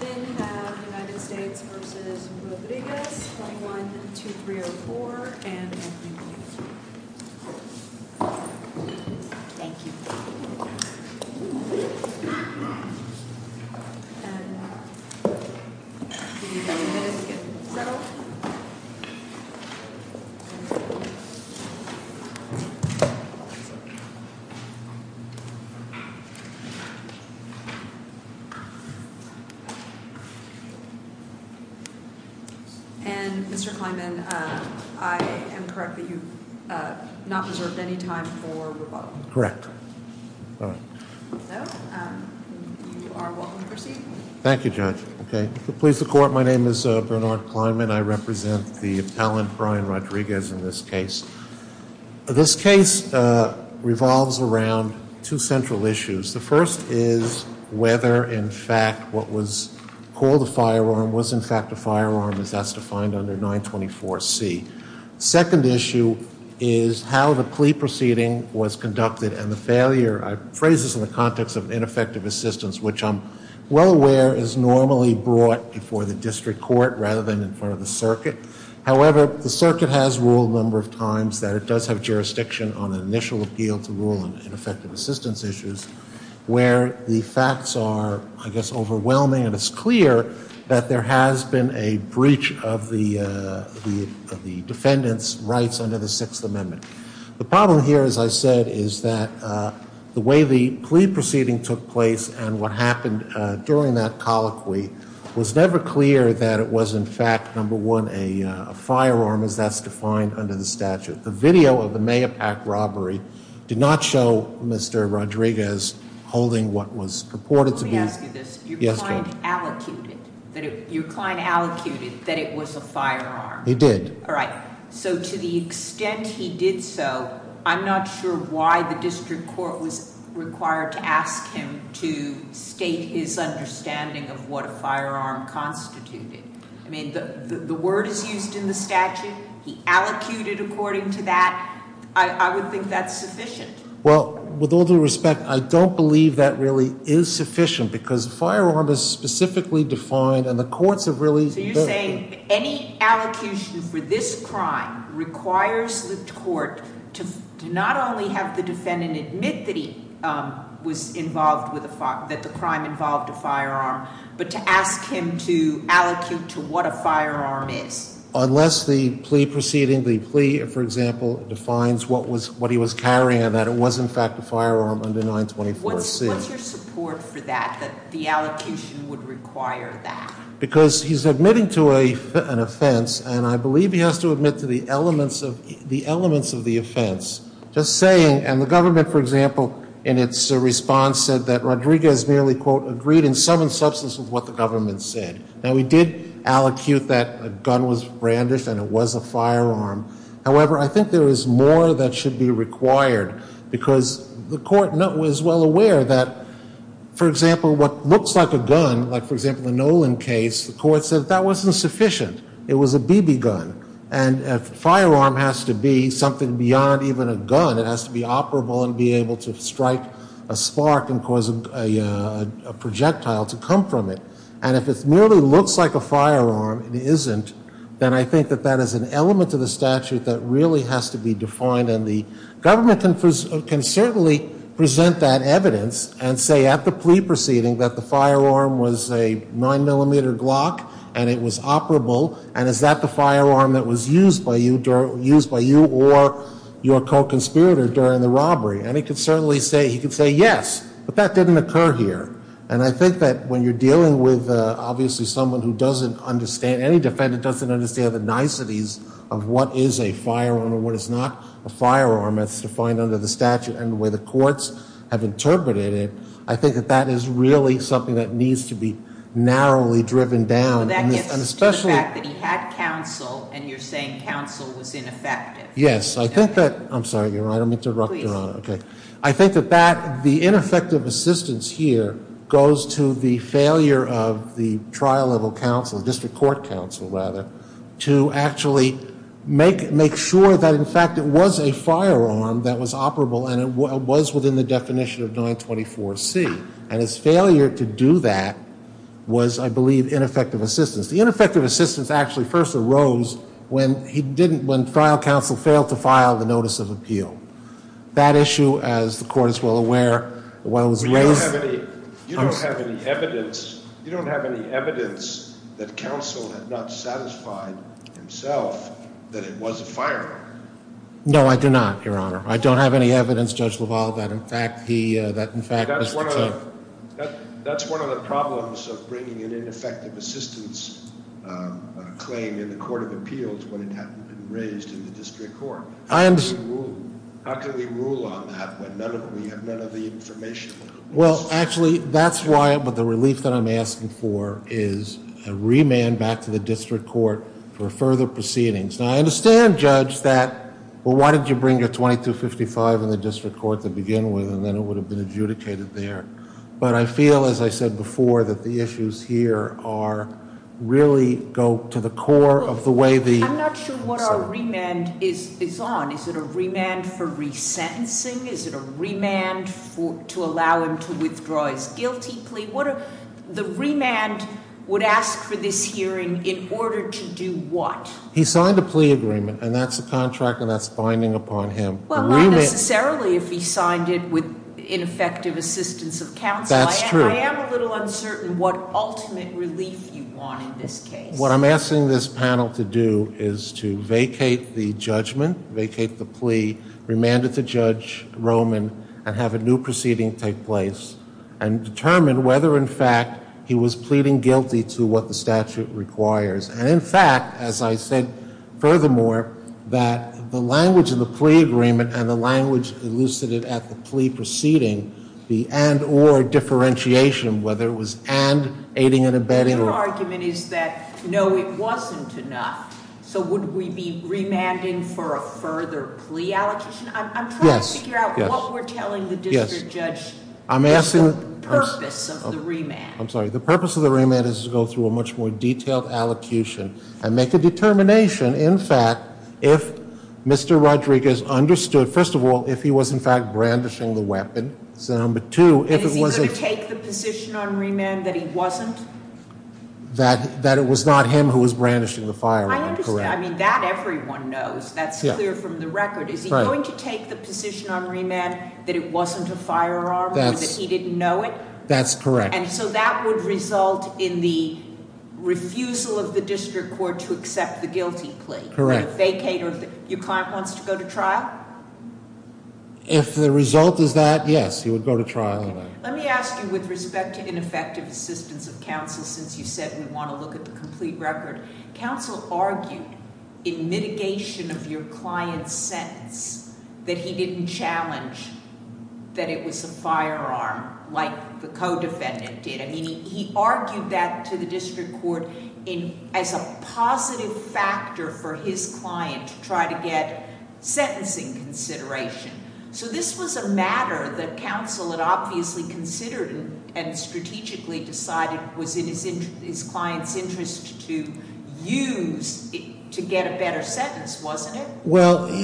In the past...... 1, 2, 3, or 4 and ending here. Thank you. We need a bandage right here. And Mr. Kleinman, I am correct that you have not reserved any time for rebuttal. Correct. You are welcome to proceed. Thank you, Judge. Okay. Please, the Court, my name is Bernard Kleinman, I represent the appellant, Brian Rodriguez, in this case. This case revolves around two central issues. The first is whether, in fact, what was called a firearm was, in fact, a firearm, as that's defined under 924C. The second issue is how the plea proceeding was conducted and the failure, phrases in the context of ineffective assistance, which I'm well aware is normally brought before the district court rather than in front of the circuit. However, the circuit has ruled a number of times that it does have jurisdiction on an ineffective assistance issues where the facts are, I guess, overwhelming and it's clear that there has been a breach of the defendant's rights under the Sixth Amendment. The problem here, as I said, is that the way the plea proceeding took place and what happened during that colloquy was never clear that it was, in fact, number one, a firearm as that's defined under the statute. The video of the megapack robbery did not show Mr. Rodriguez holding what was purported to be... Let me ask you this. Yes, ma'am. Your client allocated that it was a firearm. It did. All right. So to the extent he did so, I'm not sure why the district court was required to ask him to state his understanding of what a firearm constituted. I mean, the word is used in the statute. He allocated according to that. I would think that's sufficient. Well, with all due respect, I don't believe that really is sufficient because a firearm is specifically defined and the courts have really... So you're saying any allocution for this crime requires the court to not only have the defendant admit that the crime involved a firearm, but to ask him to allocate to what a firearm is? Unless the plea proceeding, the plea, for example, defines what he was carrying and that it was, in fact, a firearm under 924-6. What's your support for that, that the allocation would require that? Because he's admitting to an offense and I believe he has to admit to the elements of the offense. Just saying... And the government, for example, in its response said that Rodriguez merely, quote, agreed in some substance of what the government said. Now, we did allocute that a gun was brandish and it was a firearm. However, I think there is more that should be required because the court was well aware that, for example, what looks like a gun, like, for example, the Nolan case, the court says that wasn't sufficient. It was a BB gun. And a firearm has to be something beyond even a gun. It has to be operable and be able to strike a spark and cause a projectile to come from it. And if it merely looks like a firearm and it isn't, then I think that that is an element of the statute that really has to be defined and the government can certainly present that evidence and say at the plea proceeding that the firearm was a 9mm Glock and it was operable and is that the firearm that was used by you or your co-conspirator during the robbery. And it can certainly say... You can say, yes, but that didn't occur here. And I think that when you're dealing with, obviously, someone who doesn't understand... Any defendant doesn't understand the niceties of what is a firearm and what is not a firearm. That's defined under the statute and where the courts have interpreted it. I think that that is really something that needs to be narrowly driven down. That gets to the fact that you had counsel and you're saying counsel was ineffective. Yes, I think that... I'm sorry, Your Honor. I'm interrupting, Your Honor. Please. I think that the ineffective assistance here goes to the failure of the trial level counsel, district court counsel, rather, to actually make sure that, in fact, it was a firearm that was operable and it was within the definition of 924C. And its failure to do that was, I believe, ineffective assistance. The ineffective assistance actually first arose when he didn't... When trial counsel failed to file the notice of appeal. That issue, as the court is well aware, was... You don't have any evidence... You don't have any evidence that counsel had not satisfied himself that it was a firearm. No, I do not, Your Honor. I don't have any evidence, Judge LaValle, that, in fact, he... That's one of the problems of bringing an ineffective assistance claim in the court of appeals when it hasn't been raised in the district court. I understand. How can we rule on that when we have none of the information? Well, actually, that's why the release that I'm asking for is a remand back to the district court for further proceedings. Now, I understand, Judge, that... Well, why did you bring a 2255 in the district court to begin with and then it would have been adjudicated there? But I feel, as I said before, that the issues here are... really go to the core of the way the... I'm not sure what our remand is on. Is it a remand for resentencing? Is it a remand to allow him to withdraw his guilty plea? What if the remand would ask for this hearing in order to do what? He signed a plea agreement, and that's a contract, and that's binding upon him. Well, not necessarily if he signed it with ineffective assistance of counsel. That's true. I am a little uncertain what ultimate release you want in this case. What I'm asking this panel to do is to vacate the judgment, vacate the plea, remand it to Judge Roman, and have a new proceeding take place and determine whether, in fact, he was pleading guilty to what the statute requires. And, in fact, as I said, furthermore, that the language of the plea agreement and the language elucidated at the plea proceeding, the and-or differentiation, whether it was and, aiding and abetting, or... Your argument is that, no, it wasn't enough. So would we be remanding for a further plea allocation? I'm trying to figure out what we're telling the district judge is the purpose of the remand. I'm sorry. The purpose of the remand is to go through a much more detailed allocution and make a determination, in fact, if Mr. Rodriguez understood, first of all, if he was, in fact, brandishing the weapon, and, number two, if it wasn't... Is he going to take the position on remand that he wasn't? That it was not him who was brandishing the firearm, correct. I understand. I mean, that everyone knows. That's clear from the record. Is he going to take the position on remand that it wasn't a firearm or that he didn't know it? That's correct. And so that would result in the refusal of the district court to accept the guilty plea? Correct. A vacate of... Your client wants to go to trial? If the result is that, yes, he will go to trial. Let me ask you, with respect to ineffective assistance of counsel, since you said we want to look at the complete record, counsel argued, in mitigation of your client's sentence, that he didn't challenge that it was a firearm, like the co-defendant did. I mean, he argued that to the district court as a positive factor for his client to try to get sentencing consideration. So this was a matter that counsel had obviously considered and strategically decided was in his client's interest to use to get a better sentence, wasn't it? And why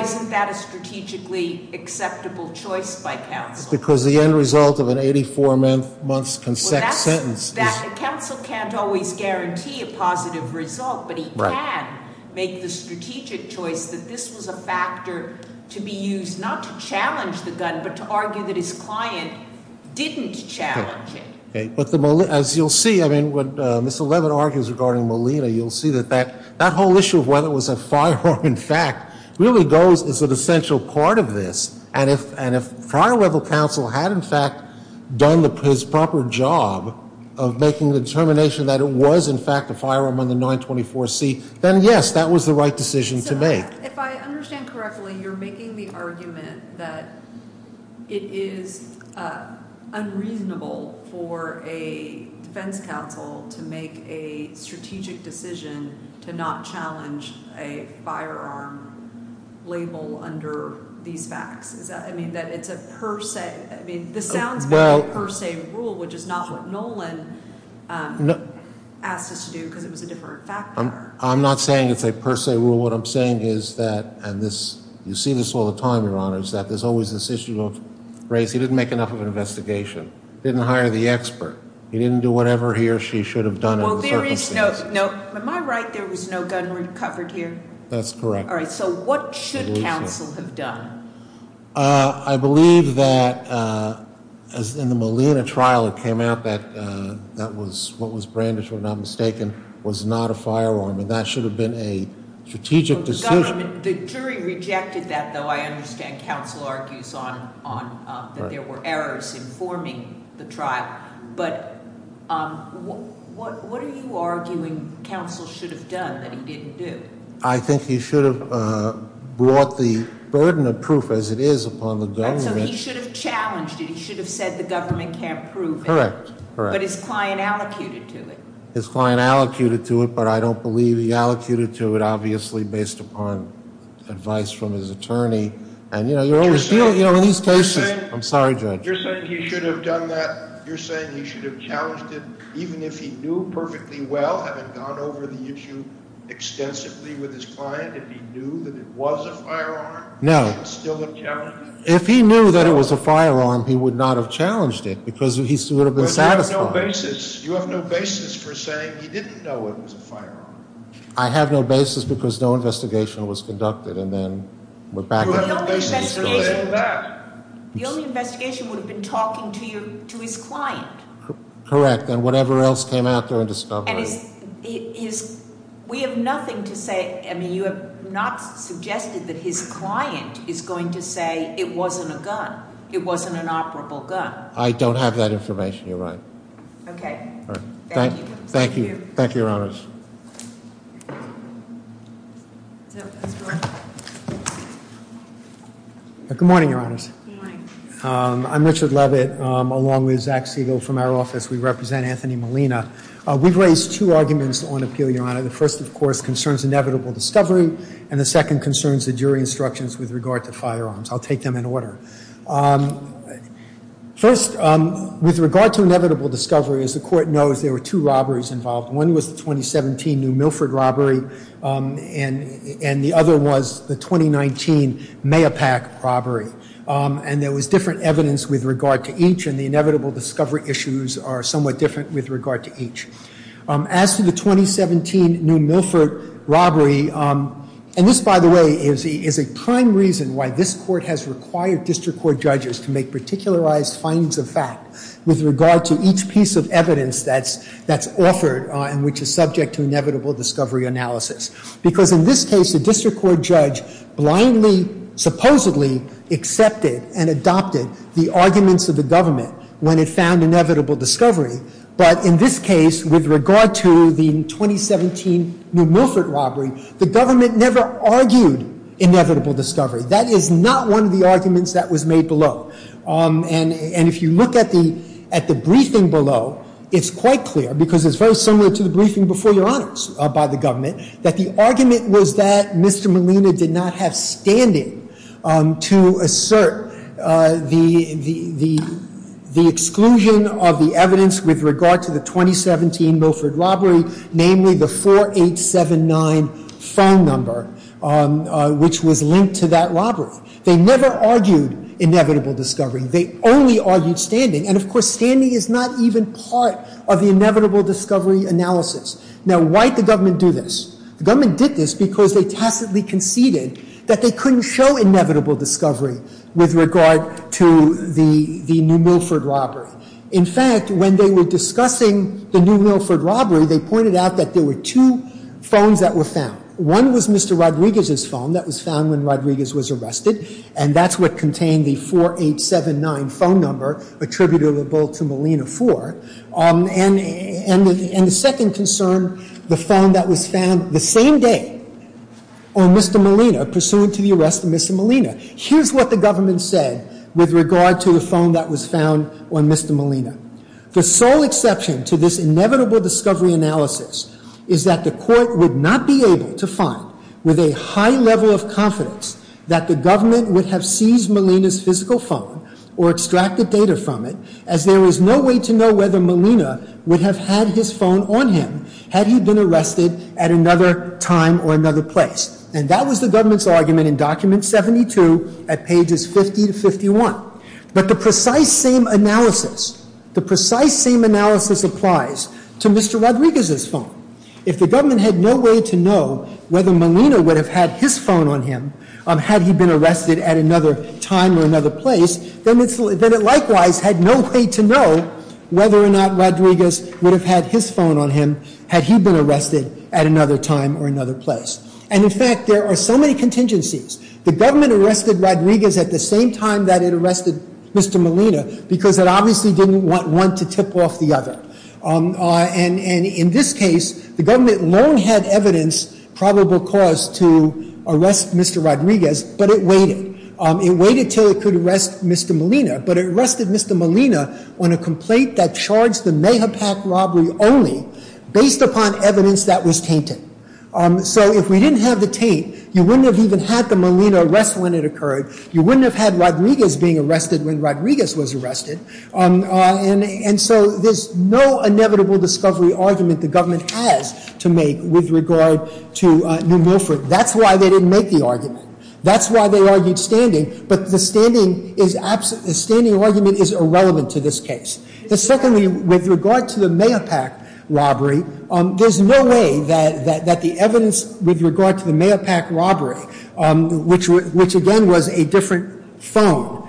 isn't that a strategically acceptable choice by counsel? Because the end result of an 84-month consent sentence... Counsel can't always guarantee a positive result, but he can make the strategic choice that this was a factor to be used not to challenge the gun, but to argue that his client didn't challenge it. But as you'll see, I mean, what Ms. Levin argues regarding Molina, you'll see that that whole issue of whether it was a firearm, in fact, really goes as an essential part of this. And if prior level counsel had, in fact, done his proper job of making the determination that it was, in fact, a firearm on the 924C, then, yes, that was the right decision to make. If I understand correctly, you're making the argument that it is unreasonable for a defense counsel to make a strategic decision to not challenge a firearm label under these facts. I mean, that it's a per se, I mean, this sounds like a per se rule, which is not what Nolan asked us to do because it's a different factor. I'm not saying it's a per se rule. What I'm saying is that, and this, you see this all the time, Your Honors, that there's always this issue of, great, he didn't make enough of an investigation. He didn't hire the expert. He didn't do whatever he or she should have done. Well, there is no, no, am I right, there was no gun recovered here? That's correct. All right, so what should counsel have done? I believe that, as in the Molina trial that came out, that was, what was branded, if I'm not mistaken, was not a firearm, and that should have been a strategic decision. The jury rejected that, though. I understand counsel argues that there were errors in forming the trial. But what are you arguing counsel should have done that he didn't do? I think he should have brought the burden of proof as it is upon the government. So he should have challenged it. He should have said the government can't prove it. Correct, correct. But his client allocated to it. His client allocated to it, but I don't believe he allocated to it, obviously based upon advice from his attorney. And, you know, he's patient. I'm sorry, Judge. You're saying he should have done that, you're saying he should have challenged it, even if he knew perfectly well, having gone over the issue extensively with his client, if he knew that it was a firearm, he would still have challenged it? If he knew that it was a firearm, he would not have challenged it, because he would have been fatified. But you have no basis for saying he didn't know it was a firearm. I have no basis because no investigation was conducted. And then we're back at it. The only investigation was talking to his client. Correct. And whatever else came after the discovery. We have nothing to say. I mean, you have not suggested that his client is going to say it wasn't a gun, it wasn't an operable gun. I don't have that information, Your Honor. Okay. Thank you. Thank you, Your Honor. Mr. Lewis. Good morning, Your Honor. Good morning. I'm Richard Levitt, along with Zach Siegel from our office. We represent Anthony Molina. We've raised two arguments on appeal, Your Honor. The first, of course, concerns inevitable discovery, and the second concerns the jury instructions with regard to firearms. I'll take them in order. First, with regard to inevitable discovery, as the Court knows, there were two robberies involved. One was the 2017 New Milford robbery, and the other was the 2019 Mayapak robbery. And there was different evidence with regard to each, and the inevitable discovery issues are somewhat different with regard to each. As to the 2017 New Milford robbery, and this, by the way, is a prime reason why this Court has required district court judges to make particularized findings of fact with regard to each piece of evidence that's offered and which is subject to inevitable discovery analysis. Because in this case, the district court judge blindly, supposedly, accepted and adopted the arguments of the government when it found inevitable discovery. But in this case, with regard to the 2017 New Milford robbery, the government never argued inevitable discovery. That is not one of the arguments that was made below. And if you look at the briefing below, it's quite clear, because it's very similar to the briefing before your honors by the government, that the argument was that Mr. Molina did not have standing to assert the exclusion of the evidence with regard to the 2017 New Milford robbery, namely the 4879 phone number, which was linked to that robbery. They never argued inevitable discovery. They only argued standing. And, of course, standing is not even part of the inevitable discovery analysis. Now, why did the government do this? The government did this because they tacitly conceded that they couldn't show inevitable discovery with regard to the New Milford robbery. In fact, when they were discussing the New Milford robbery, they pointed out that there were two phones that were found. One was Mr. Rodriguez's phone that was found when Rodriguez was arrested, and that's what contained the 4879 phone number attributable to Molina for. And the second concern, the phone that was found the same day on Mr. Molina, pursuant to the arrest of Mr. Molina. Here's what the government said with regard to the phone that was found on Mr. Molina. The sole exception to this inevitable discovery analysis is that the court would not be able to find with a high level of confidence that the government would have seized Molina's physical phone or extracted data from it, as there was no way to know whether Molina would have had his phone on him had he been arrested at another time or another place. And that was the government's argument in Document 72 at pages 50 to 51. But the precise same analysis applies to Mr. Rodriguez's phone. If the government had no way to know whether Molina would have had his phone on him had he been arrested at another time or another place, then it likewise had no way to know whether or not Rodriguez would have had his phone on him had he been arrested at another time or another place. And in fact, there are so many contingencies. The government arrested Rodriguez at the same time that it arrested Mr. Molina because it obviously didn't want one to tip off the other. And in this case, the government long had evidence, probable cause, to arrest Mr. Rodriguez, but it waited. It waited until it could arrest Mr. Molina, but it arrested Mr. Molina on a complaint that charged the Mejapac robbery only based upon evidence that was tainted. So if we didn't have the taint, you wouldn't have even had the Molina arrest when it occurred. You wouldn't have had Rodriguez being arrested when Rodriguez was arrested. And so there's no inevitable discovery argument the government has to make with regard to New Milford. That's why they didn't make the argument. That's why they argued standing, but the standing argument is irrelevant to this case. And secondly, with regard to the Mejapac robbery, there's no way that the evidence with regard to the Mejapac robbery, which again was a different phone,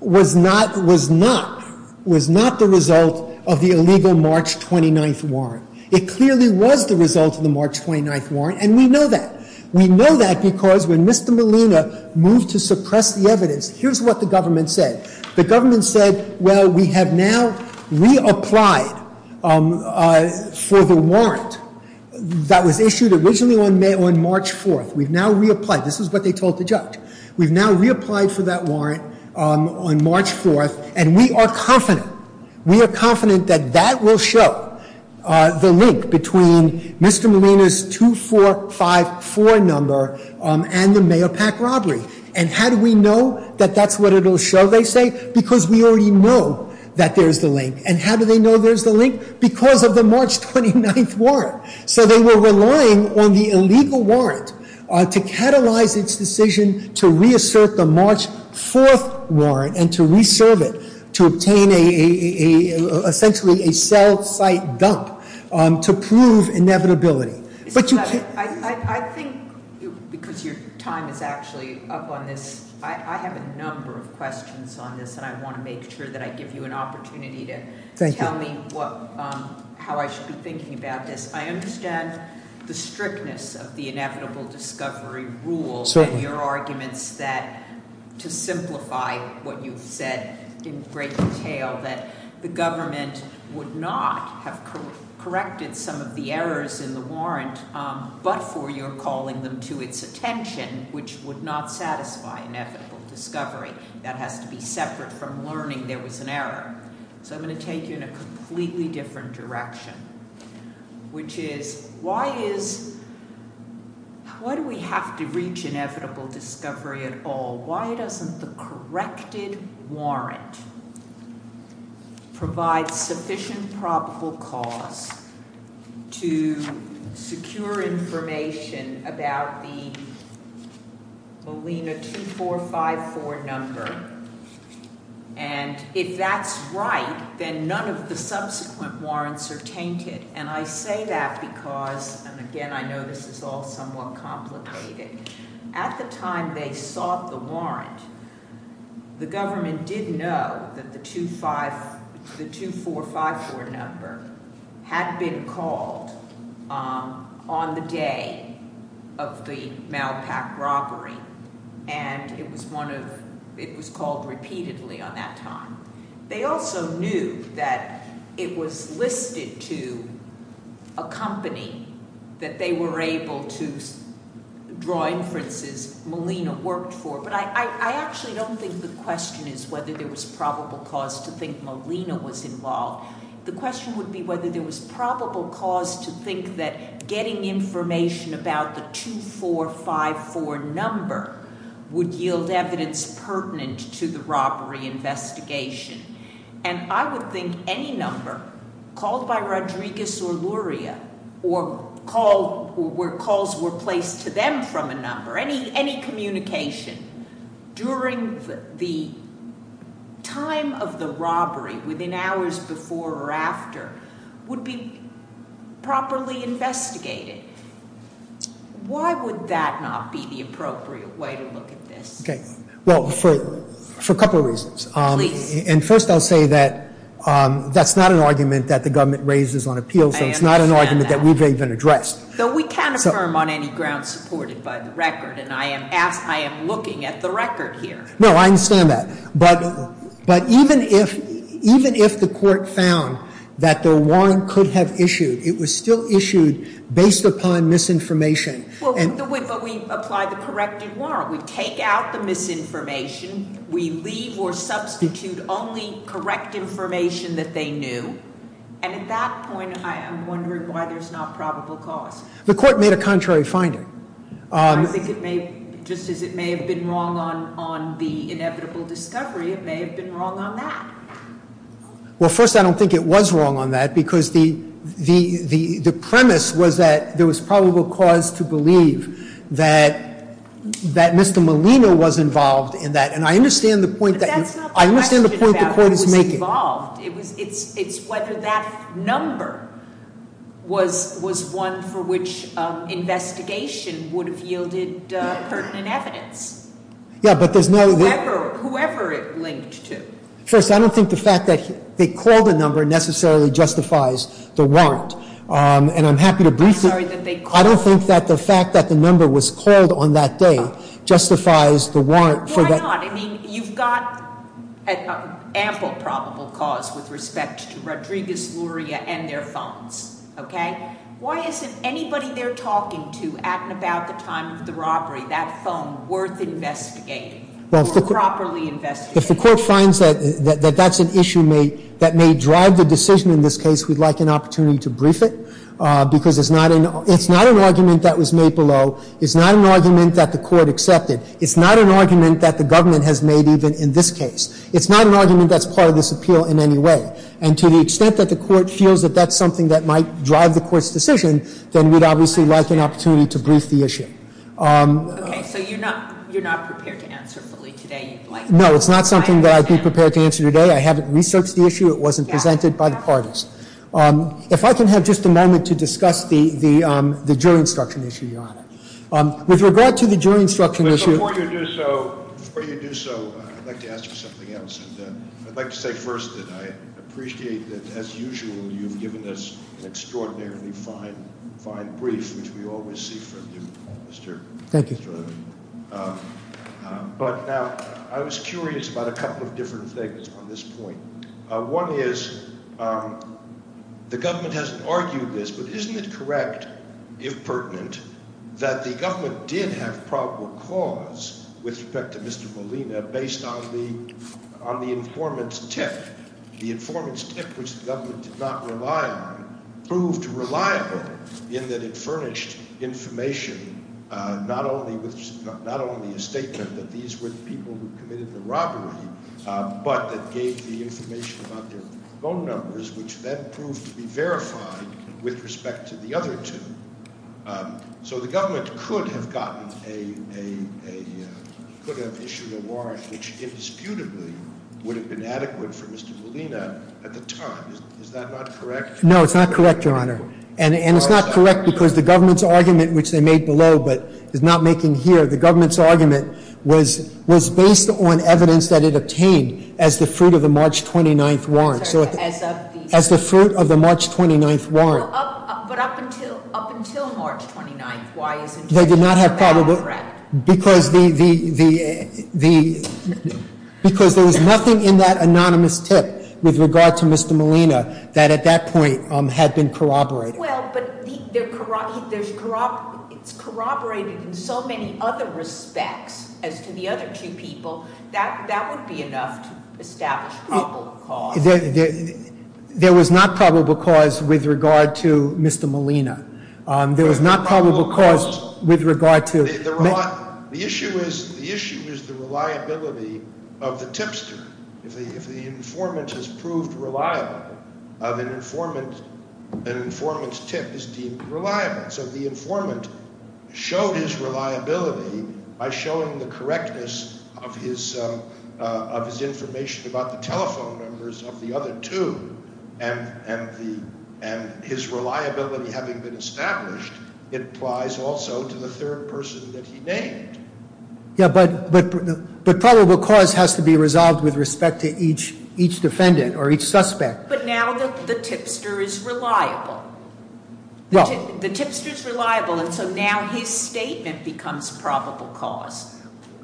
was not the result of the illegal March 29th warrant. It clearly was the result of the March 29th warrant, and we know that. We know that because when Mr. Molina moved to suppress the evidence, here's what the government said. The government said, well, we have now reapplied for the warrant that was issued originally on March 4th. We've now reapplied. This is what they told the judge. We've now reapplied for that warrant on March 4th, and we are confident. We are confident that that will show the link between Mr. Molina's 2454 number and the Mejapac robbery. And how do we know that that's what it will show, they say? Because we already know that there's a link. And how do they know there's a link? Because of the March 29th warrant. So they were relying on the illegal warrant to catalyze its decision to reassert the March 4th warrant and to reserve it to obtain essentially a cell site dump to prove inevitability. I think because your time is actually up on this. I have a number of questions on this, and I want to make sure that I give you an opportunity to tell me how I should be thinking about this. I understand the strictness of the inevitable discovery rule and your arguments that to simplify what you've said in great detail, that the government would not have corrected some of the errors in the warrant but for your calling them to its attention, which would not satisfy inevitable discovery. That has to be separate from learning there was an error. So I'm going to take you in a completely different direction, which is why do we have to reach inevitable discovery at all? Why doesn't the corrected warrant provide sufficient probable cause to secure information about the Molina 2454 number? And if that's right, then none of the subsequent warrants are tainted. And I say that because, again, I know this is all somewhat complicated. At the time they sought the warrant, the government did know that the 2454 number had been called on the day of the mousetrap robbery, and it was called repeatedly on that time. They also knew that it was listed to a company that they were able to draw inferences Molina worked for. But I actually don't think the question is whether there was probable cause to think Molina was involved. The question would be whether there was probable cause to think that getting information about the 2454 number would yield evidence pertinent to the robbery investigation. And I would think any number called by Rodriguez or Luria or where calls were placed to them from a number, any communication during the time of the robbery, within hours before or after, would be properly investigated. Why would that not be the appropriate way to look at this? Okay, well, for a couple of reasons. And first I'll say that that's not an argument that the government raises on appeals and it's not an argument that we've even addressed. So we can't affirm on any grounds supported by the record, and I am looking at the record here. No, I understand that. But even if the court found that the warrant could have issued, it was still issued based upon misinformation. But we apply the corrected warrant. We take out the misinformation. We leave or substitute only correct information that they knew. And at that point, I'm wondering why there's not probable cause. The court made a contrary finding. Just as it may have been wrong on the inevitable discovery, it may have been wrong on that. Well, first, I don't think it was wrong on that because the premise was that there was probable cause to believe that Mr. Molina was involved in that. And I understand the point that the court is making. But that's not the question about whether he was involved. It's whether that number was one for which investigation would have yielded pertinent evidence. Yeah, but there's no – Whoever it linked to. First, I don't think the fact that they called the number necessarily justifies the warrant. And I'm happy to brief you. I don't think that the fact that the number was called on that day justifies the warrant. Yeah, I know. I mean, you've got ample probable cause with respect to Rodriguez, Luria, and their phones. Okay? Why isn't anybody they're talking to at about the time of the robbery, that phone worth investigating or properly investigating? If the court finds that that's an issue that may drive the decision in this case, we'd like an opportunity to brief it because it's not an argument that was made below. It's not an argument that the court accepted. It's not an argument that the government has made even in this case. It's not an argument that's part of this appeal in any way. And to the extent that the court feels that that's something that might drive the court's decision, then we'd obviously like an opportunity to brief the issue. Okay, so you're not prepared to answer, really, today? No, it's not something that I'd be prepared to answer today. I haven't researched the issue. It wasn't presented by the parties. If I can have just a moment to discuss the jury instruction issue, Your Honor. With regard to the jury instruction issue- Before you do so, I'd like to ask you something else. I'd like to say first that I appreciate that, as usual, you've given this extraordinarily fine brief, which we all receive from you, Mr. Sterling. Thank you. But I was curious about a couple of different things on this point. One is the government has argued this, but isn't it correct, if pertinent, that the government did have probable cause with respect to Mr. Molina based on the informant's tip? The informant's tip, which the government did not rely on, proved reliable in that it furnished information, not only a statement that these were the people who committed the robbery, but that gave the information about their phone numbers, which then proved to be verified with respect to the other two. So the government could have issued a warrant which indisputably would have been adequate for Mr. Molina at the time. Is that not correct? No, it's not correct, Your Honor. And it's not correct because the government's argument, which they made below but is not making here, the government's argument was based on evidence that it obtained as the fruit of the March 29th warrant. As the fruit of the March 29th warrant. But up until March 29th, why is it not correct? Because there was nothing in that anonymous tip with regard to Mr. Molina that at that point had been corroborated. Well, but it's corroborated in so many other respects as to the other two people. That would be enough to establish probable cause. There was not probable cause with regard to Mr. Molina. There was not probable cause with regard to Mr. Molina. The issue is the reliability of the tipster. If the informant has proved reliable, the informant's tip is deemed reliable. So if the informant showed his reliability by showing the correctness of his information about the telephone numbers of the other two, and his reliability having been established, it applies also to the third person that he named. Yeah, but probable cause has to be resolved with respect to each defendant or each suspect. But now the tipster is reliable. The tipster is reliable, and so now his statement becomes probable cause.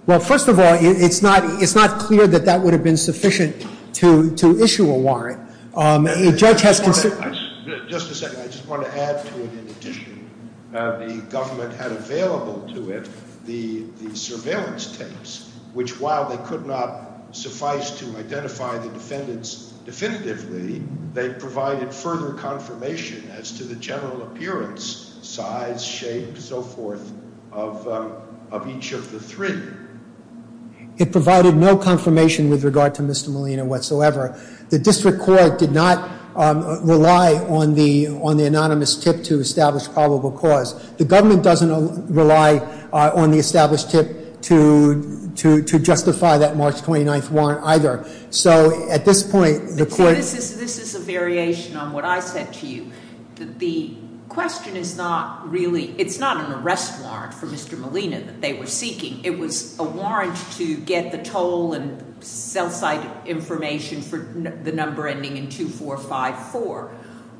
Well, first of all, it's not clear that that would have been sufficient to issue a warrant. Just a second. I just want to add to the petition. The government had available to it the surveillance tapes, which while they could not suffice to identify the defendants definitively, they provided further confirmation as to the general appearance, size, shape, and so forth of each of the three. It provided no confirmation with regard to Mr. Molina whatsoever. The district court did not rely on the anonymous tip to establish probable cause. The government doesn't rely on the established tip to justify that March 29th warrant either. So at this point, the court— This is a variation on what I've said to you. The question is not really—it's not an arrest warrant for Mr. Molina that they were seeking. It was a warrant to get the total and felt-like information for the number ending in 2454,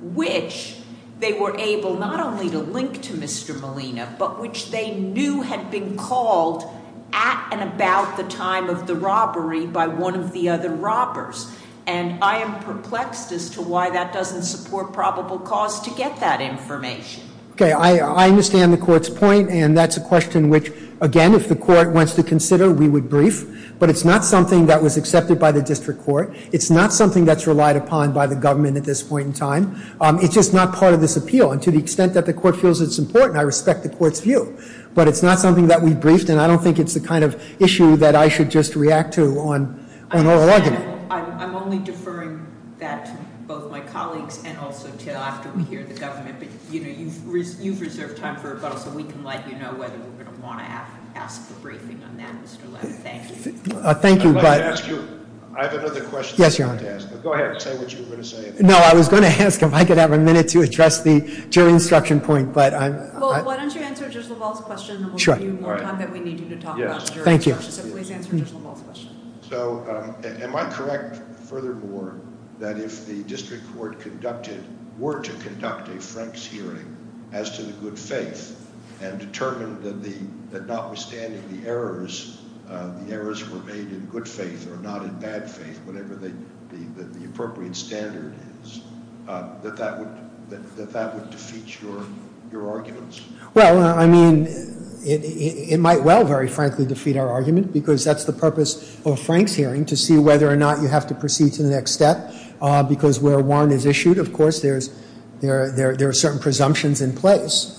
which they were able not only to link to Mr. Molina, but which they knew had been called at and about the time of the robbery by one of the other robbers. And I am perplexed as to why that doesn't support probable cause to get that information. Okay, I understand the court's point, and that's a question which, again, if the court wants to consider, we would brief. But it's not something that was accepted by the district court. It's not something that's relied upon by the government at this point in time. It's just not part of this appeal. And to the extent that the court feels it's important, I respect the court's view. But it's not something that we've briefed, and I don't think it's the kind of issue that I should just react to on oral argument. I'm only deferring that to both my colleagues and also to us here at the government. You've reserved time for us, so we can let you know whether we're going to want to ask a briefing on that. Thank you. Thank you. I have another question. Yes, Your Honor. Go ahead. Say what you were going to say. No, I was going to ask if I could have a minute to address the jury instruction point. Well, why don't you answer just about the question, and we'll give you the time that we need you to talk about jury instruction. Thank you. We can answer just one more question. So am I correct, furthermore, that if the district court were to conduct a Frank's hearing as to the good faith and determined that notwithstanding the errors, the errors were made in good faith or not in bad faith, whatever the appropriate standard is, that that would defeat your arguments? Well, I mean, it might well, very frankly, defeat our argument, because that's the purpose of a Frank's hearing, to see whether or not you have to proceed to the next step, because where a warrant is issued, of course, there are certain presumptions in place.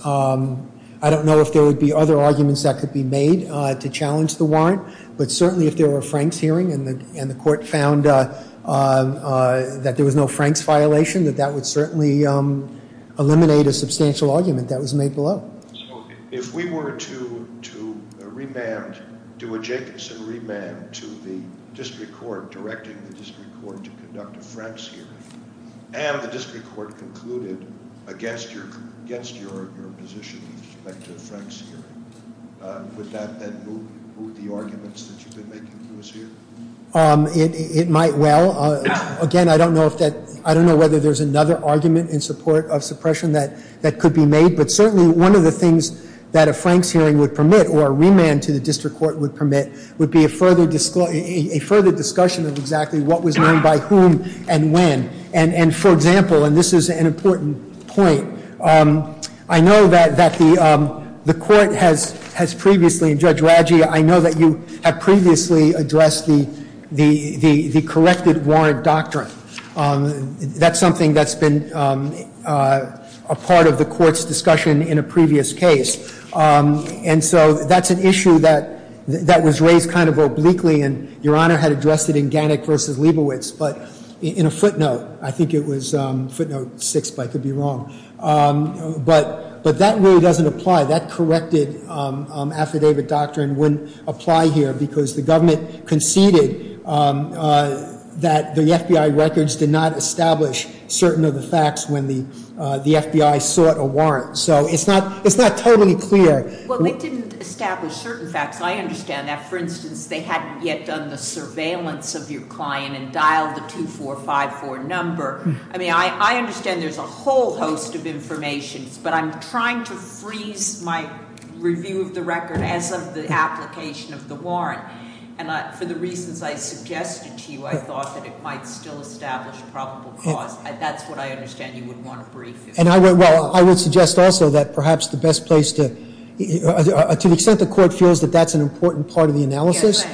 I don't know if there would be other arguments that could be made to challenge the warrant, but certainly if there were a Frank's hearing and the court found that there was no Frank's violation, that that would certainly eliminate a substantial argument that was made below. So if we were to remand, to objectively remand to the district court, directing the district court to conduct a Frank's hearing, and the district court concluded against your position to conduct a Frank's hearing, would that move the arguments that you've been making in this hearing? It might well. Again, I don't know whether there's another argument in support of suppression that could be made, but certainly one of the things that a Frank's hearing would permit, or a remand to the district court would permit, would be a further discussion of exactly what was done by whom and when. And for example, and this is an important point, I know that the court has previously, Judge Raggi, I know that you have previously addressed the corrected warrant doctrine. That's something that's been a part of the court's discussion in a previous case. And so that's an issue that was raised kind of obliquely, and Your Honor had addressed it in Gannett v. Leibovitz, but in a footnote. I think it was footnote 6, but I could be wrong. But that really doesn't apply. That corrected affidavit doctrine wouldn't apply here, because the government conceded that the FBI records did not establish certain of the facts when the FBI sought a warrant. So it's not totally clear. Well, they didn't establish certain facts. I understand that. For instance, they hadn't yet done the surveillance of your client and dialed the 2454 number. I mean, I understand there's a whole host of information, but I'm trying to freeze my review of the record as of the application of the warrant. And for the reasons I suggested to you, I thought that it might still establish a probable cause. That's what I understand you would want to freeze. Well, I would suggest also that perhaps the best place to – to the extent the court feels that that's an important part of the analysis,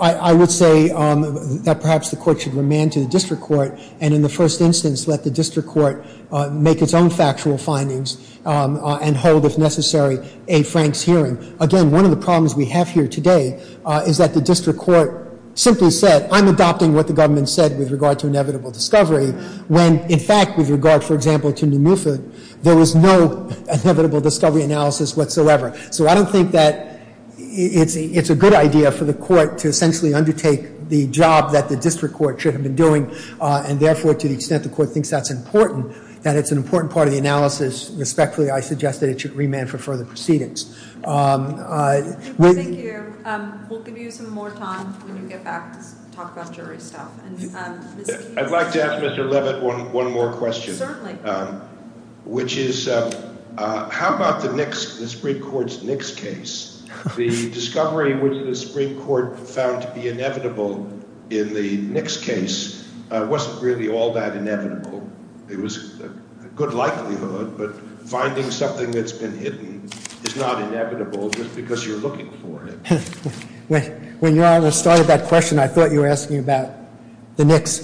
I would say that perhaps the court should remand to the district court and in the first instance let the district court make its own factual findings and hold, if necessary, a Frank's hearing. Again, one of the problems we have here today is that the district court simply said, I'm adopting what the government said with regard to inevitable discovery, when, in fact, with regard, for example, to Newmuffet, there was no inevitable discovery analysis whatsoever. So I don't think that it's a good idea for the court to essentially undertake the job that the district court should have been doing, and therefore to the extent the court thinks that's important, that it's an important part of the analysis, respectfully, I suggest that it should remand for further proceedings. Thank you. We'll give you some more time when we get back to talk about jury stuff. I'd like to ask Mr. Levitt one more question. Certainly. Which is, how about the Supreme Court's Nix case? The discovery which the Supreme Court found to be inevitable in the Nix case wasn't really all that inevitable. It was a good likelihood, but finding something that's been hidden is not inevitable just because you're looking for it. When Your Honor started that question, I thought you were asking about the Nix.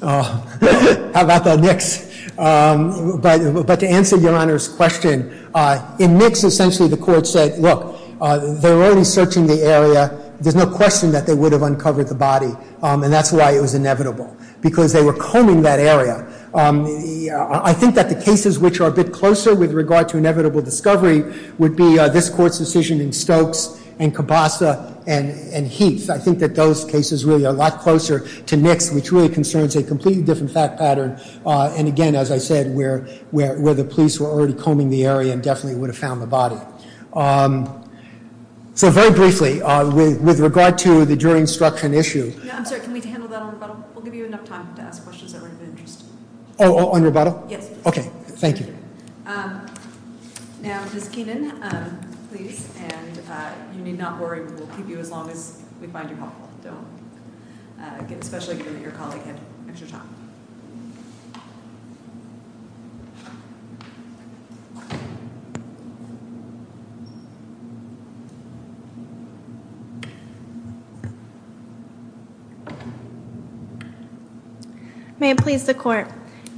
How about the Nix? But to answer Your Honor's question, in Nix essentially the court said, look, they're already searching the area. There's no question that they would have uncovered the body, and that's why it was inevitable, because they were combing that area. I think that the cases which are a bit closer with regard to inevitable discovery would be this court's decision in Stokes and Cabasa and Heath. I think that those cases really are a lot closer to Nix, which really concerns a completely different fact pattern, and again, as I said, where the police were already combing the area they definitely would have found the body. So very briefly, with regard to the jury instruction issue. No, I'm sorry, can we handle that on rebuttal? We'll give you enough time to ask questions that are of interest. Oh, on rebuttal? Yes. Okay, thank you. And Ms. Keenan, please, and you need not worry. We'll keep you as long as we find you helpful, especially if your colleague has extra time. May I please the court?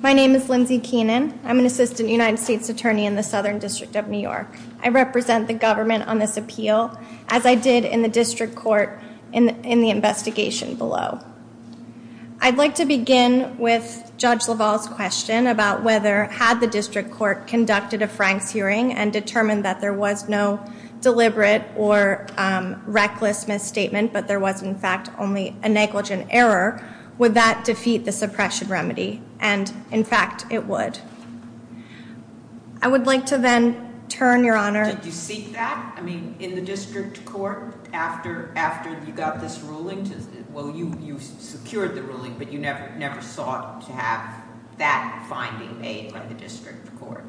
My name is Lindsay Keenan. I'm an assistant United States attorney in the Southern District of New York. I represent the government on this appeal, as I did in the district court in the investigation below. I'd like to begin with Judge LaValle's question about whether, on whether or not there had been an incident and determined that there was no deliberate or reckless misstatement, but there was, in fact, only a negligent error, would that defeat the suppression remedy? And, in fact, it would. I would like to then turn, Your Honor. Did you speak back? I mean, in the district court, after you got this ruling? Well, you secured the ruling, but you never sought to have that finding made by the district court?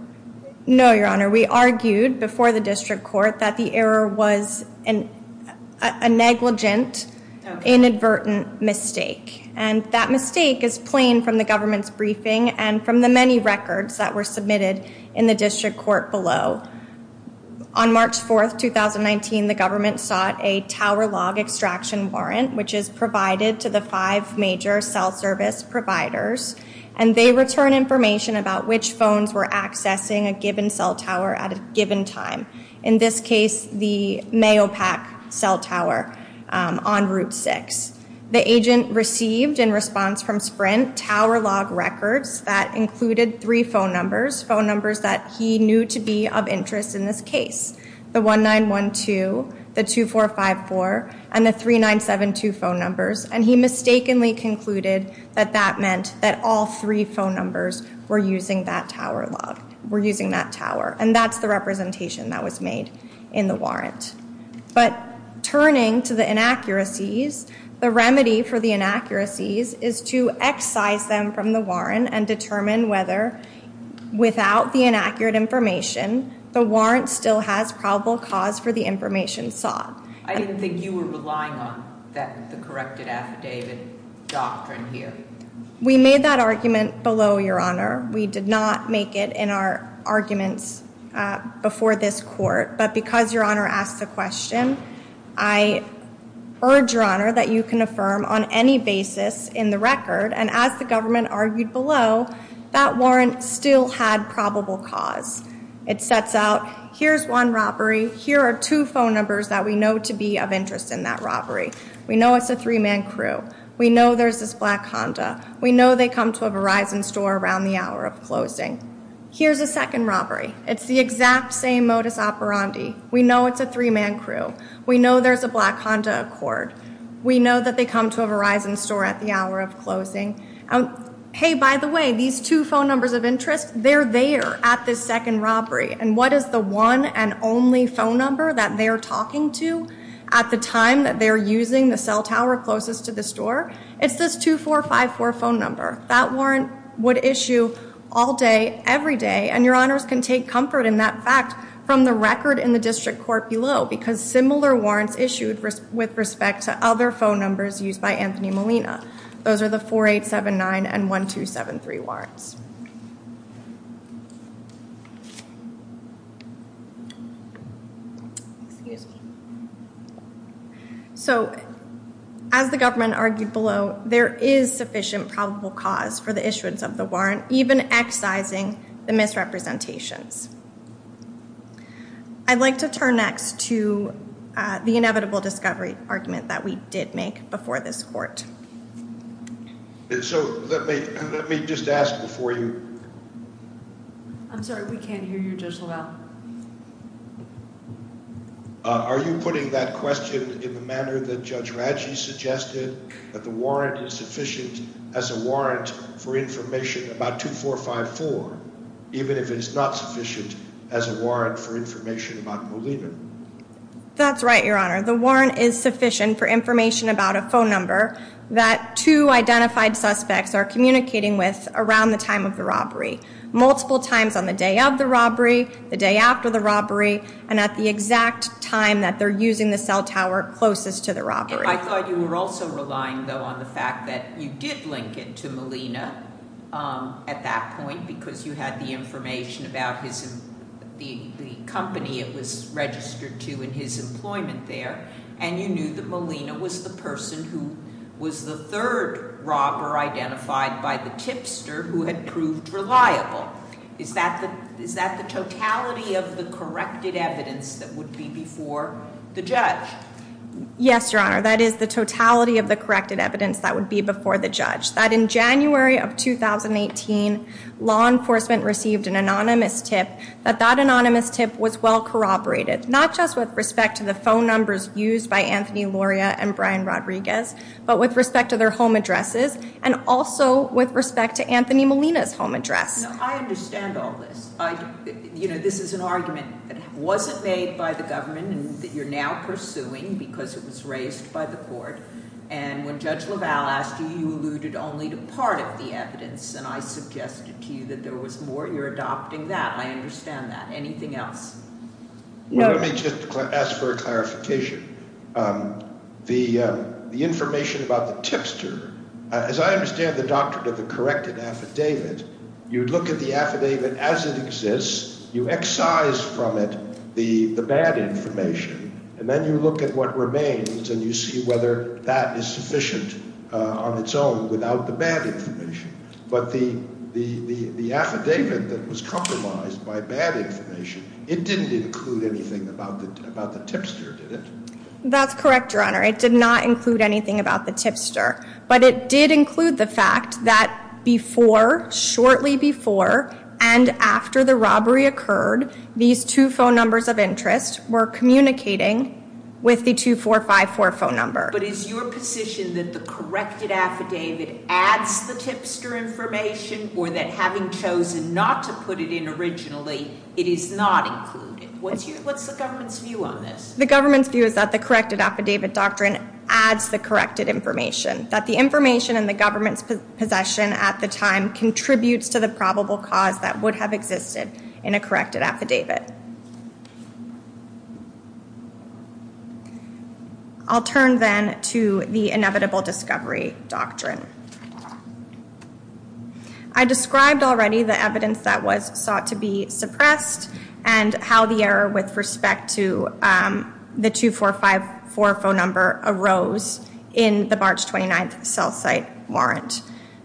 No, Your Honor. We argued before the district court that the error was a negligent, inadvertent mistake, and that mistake is plain from the government's briefing and from the many records that were submitted in the district court below. On March 4, 2019, the government sought a tower log extraction warrant, which is provided to the five major cell service providers, and they return information about which phones were accessing a given cell tower at a given time. In this case, the mail pack cell tower on Route 6. The agent received, in response from Sprint, tower log records that included three phone numbers, phone numbers that he knew to be of interest in this case, the 1912, the 2454, and the 3972 phone numbers, and he mistakenly concluded that that meant that all three phone numbers were using that tower log, were using that tower, and that's the representation that was made in the warrant. But turning to the inaccuracies, the remedy for the inaccuracies is to excise them from the warrant and determine whether, without the inaccurate information, the warrant still has probable cause for the information sought. I didn't think you were relying on the corrected affidavit doctrine here. We made that argument below, Your Honor. We did not make it in our argument before this court. But because Your Honor asked a question, I urge, Your Honor, that you can affirm on any basis in the record, and as the government argued below, that warrant still had probable cause. It sets out, here's one robbery, here are two phone numbers that we know to be of interest in that robbery. We know it's a three-man crew. We know there's this black Honda. We know they come to a Verizon store around the hour of closing. Here's a second robbery. It's the exact same modus operandi. We know it's a three-man crew. We know there's a black Honda Accord. We know that they come to a Verizon store at the hour of closing. Hey, by the way, these two phone numbers of interest, they're there at this second robbery, and what is the one and only phone number that they're talking to at the time that they're using the cell tower closest to the store? It's this 2454 phone number. That warrant would issue all day, every day, and Your Honors can take comfort in that fact from the record in the district court below because similar warrants issued with respect to other phone numbers used by Anthony Molina. Those are the 4879 and 1273 warrants. Excuse me. So as the government argued below, there is sufficient probable cause for the issuance of the warrant, even excising the misrepresentations. I'd like to turn next to the inevitable discovery argument that we did make before this court. So let me just ask before you... I'm sorry, we can't hear you, Judge LaValle. Are you putting that question in the manner that Judge Raggi suggested, that the warrant is sufficient as a warrant for information about 2454, even if it's not sufficient as a warrant for information about Molina? That's right, Your Honor. The warrant is sufficient for information about a phone number around the time of the robbery. Multiple times on the day of the robbery, the day after the robbery, and at the exact time that they're using the cell tower closest to the robbery. I thought you were also relying, though, on the fact that you did link it to Molina at that point because you had the information about the company it was registered to and his employment there, and you knew that Molina was the person who was the third robber identified by the tipster who had proved reliable. Is that the totality of the corrected evidence that would be before the judge? Yes, Your Honor. That is the totality of the corrected evidence that would be before the judge. That in January of 2018, law enforcement received an anonymous tip. That anonymous tip was well corroborated, not just with respect to the phone numbers used by Anthony Loria and Brian Rodriguez, but with respect to their home addresses and also with respect to Anthony Molina's home address. Now, I understand all this. You know, this is an argument that wasn't made by the government and that you're now pursuing because it was raised by the court, and when Judge LaValle asked you, you alluded only to part of the evidence, and I suggested to you that there was more. You're adopting that. I understand that. Anything else? Let me just ask for a clarification. The information about the tipster, as I understand the doctrine of the corrected affidavit, you look at the affidavit as it exists, you excise from it the bad information, and then you look at what remains and you see whether that is sufficient on its own without the bad information. But the affidavit that was compromised by bad information, it didn't include anything about the tipster, did it? That's correct, Your Honor. It did not include anything about the tipster, but it did include the fact that before, shortly before, and after the robbery occurred, these two phone numbers of interest were communicating with the 2454 phone number. But is your position that the corrected affidavit adds the tipster information or that having chosen not to put it in originally, it is not included? What's the government's view on this? The government's view is that the corrected affidavit doctrine adds the corrected information, that the information in the government's possession at the time contributes to the probable cause that would have existed in a corrected affidavit. I'll turn then to the inevitable discovery doctrine. I described already the evidence that was thought to be suppressed and how the error with respect to the 2454 phone number arose in the March 29th cell site warrant.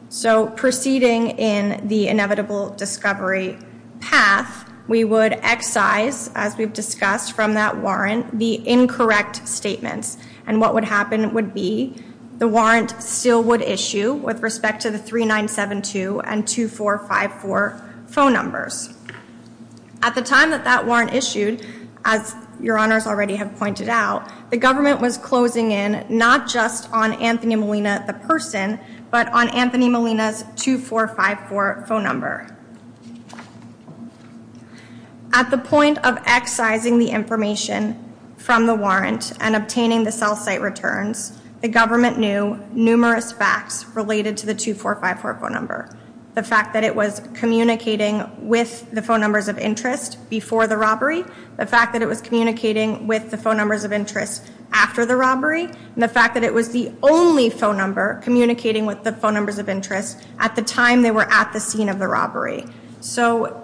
So proceeding in the inevitable discovery path, we would excise, as we've discussed from that warrant, the incorrect statement. And what would happen would be the warrant still would issue with respect to the 3972 and 2454 phone numbers. At the time that that warrant issued, as your honors already have pointed out, the government was closing in not just on Anthony Molina, the person, but on Anthony Molina's 2454 phone number. At the point of excising the information from the warrant and obtaining the cell site returns, the government knew numerous facts related to the 2454 phone number. The fact that it was communicating with the phone numbers of interest before the robbery, the fact that it was communicating with the phone numbers of interest after the robbery, and the fact that it was the only phone number communicating with the phone numbers of interest at the time they were at the scene of the robbery. So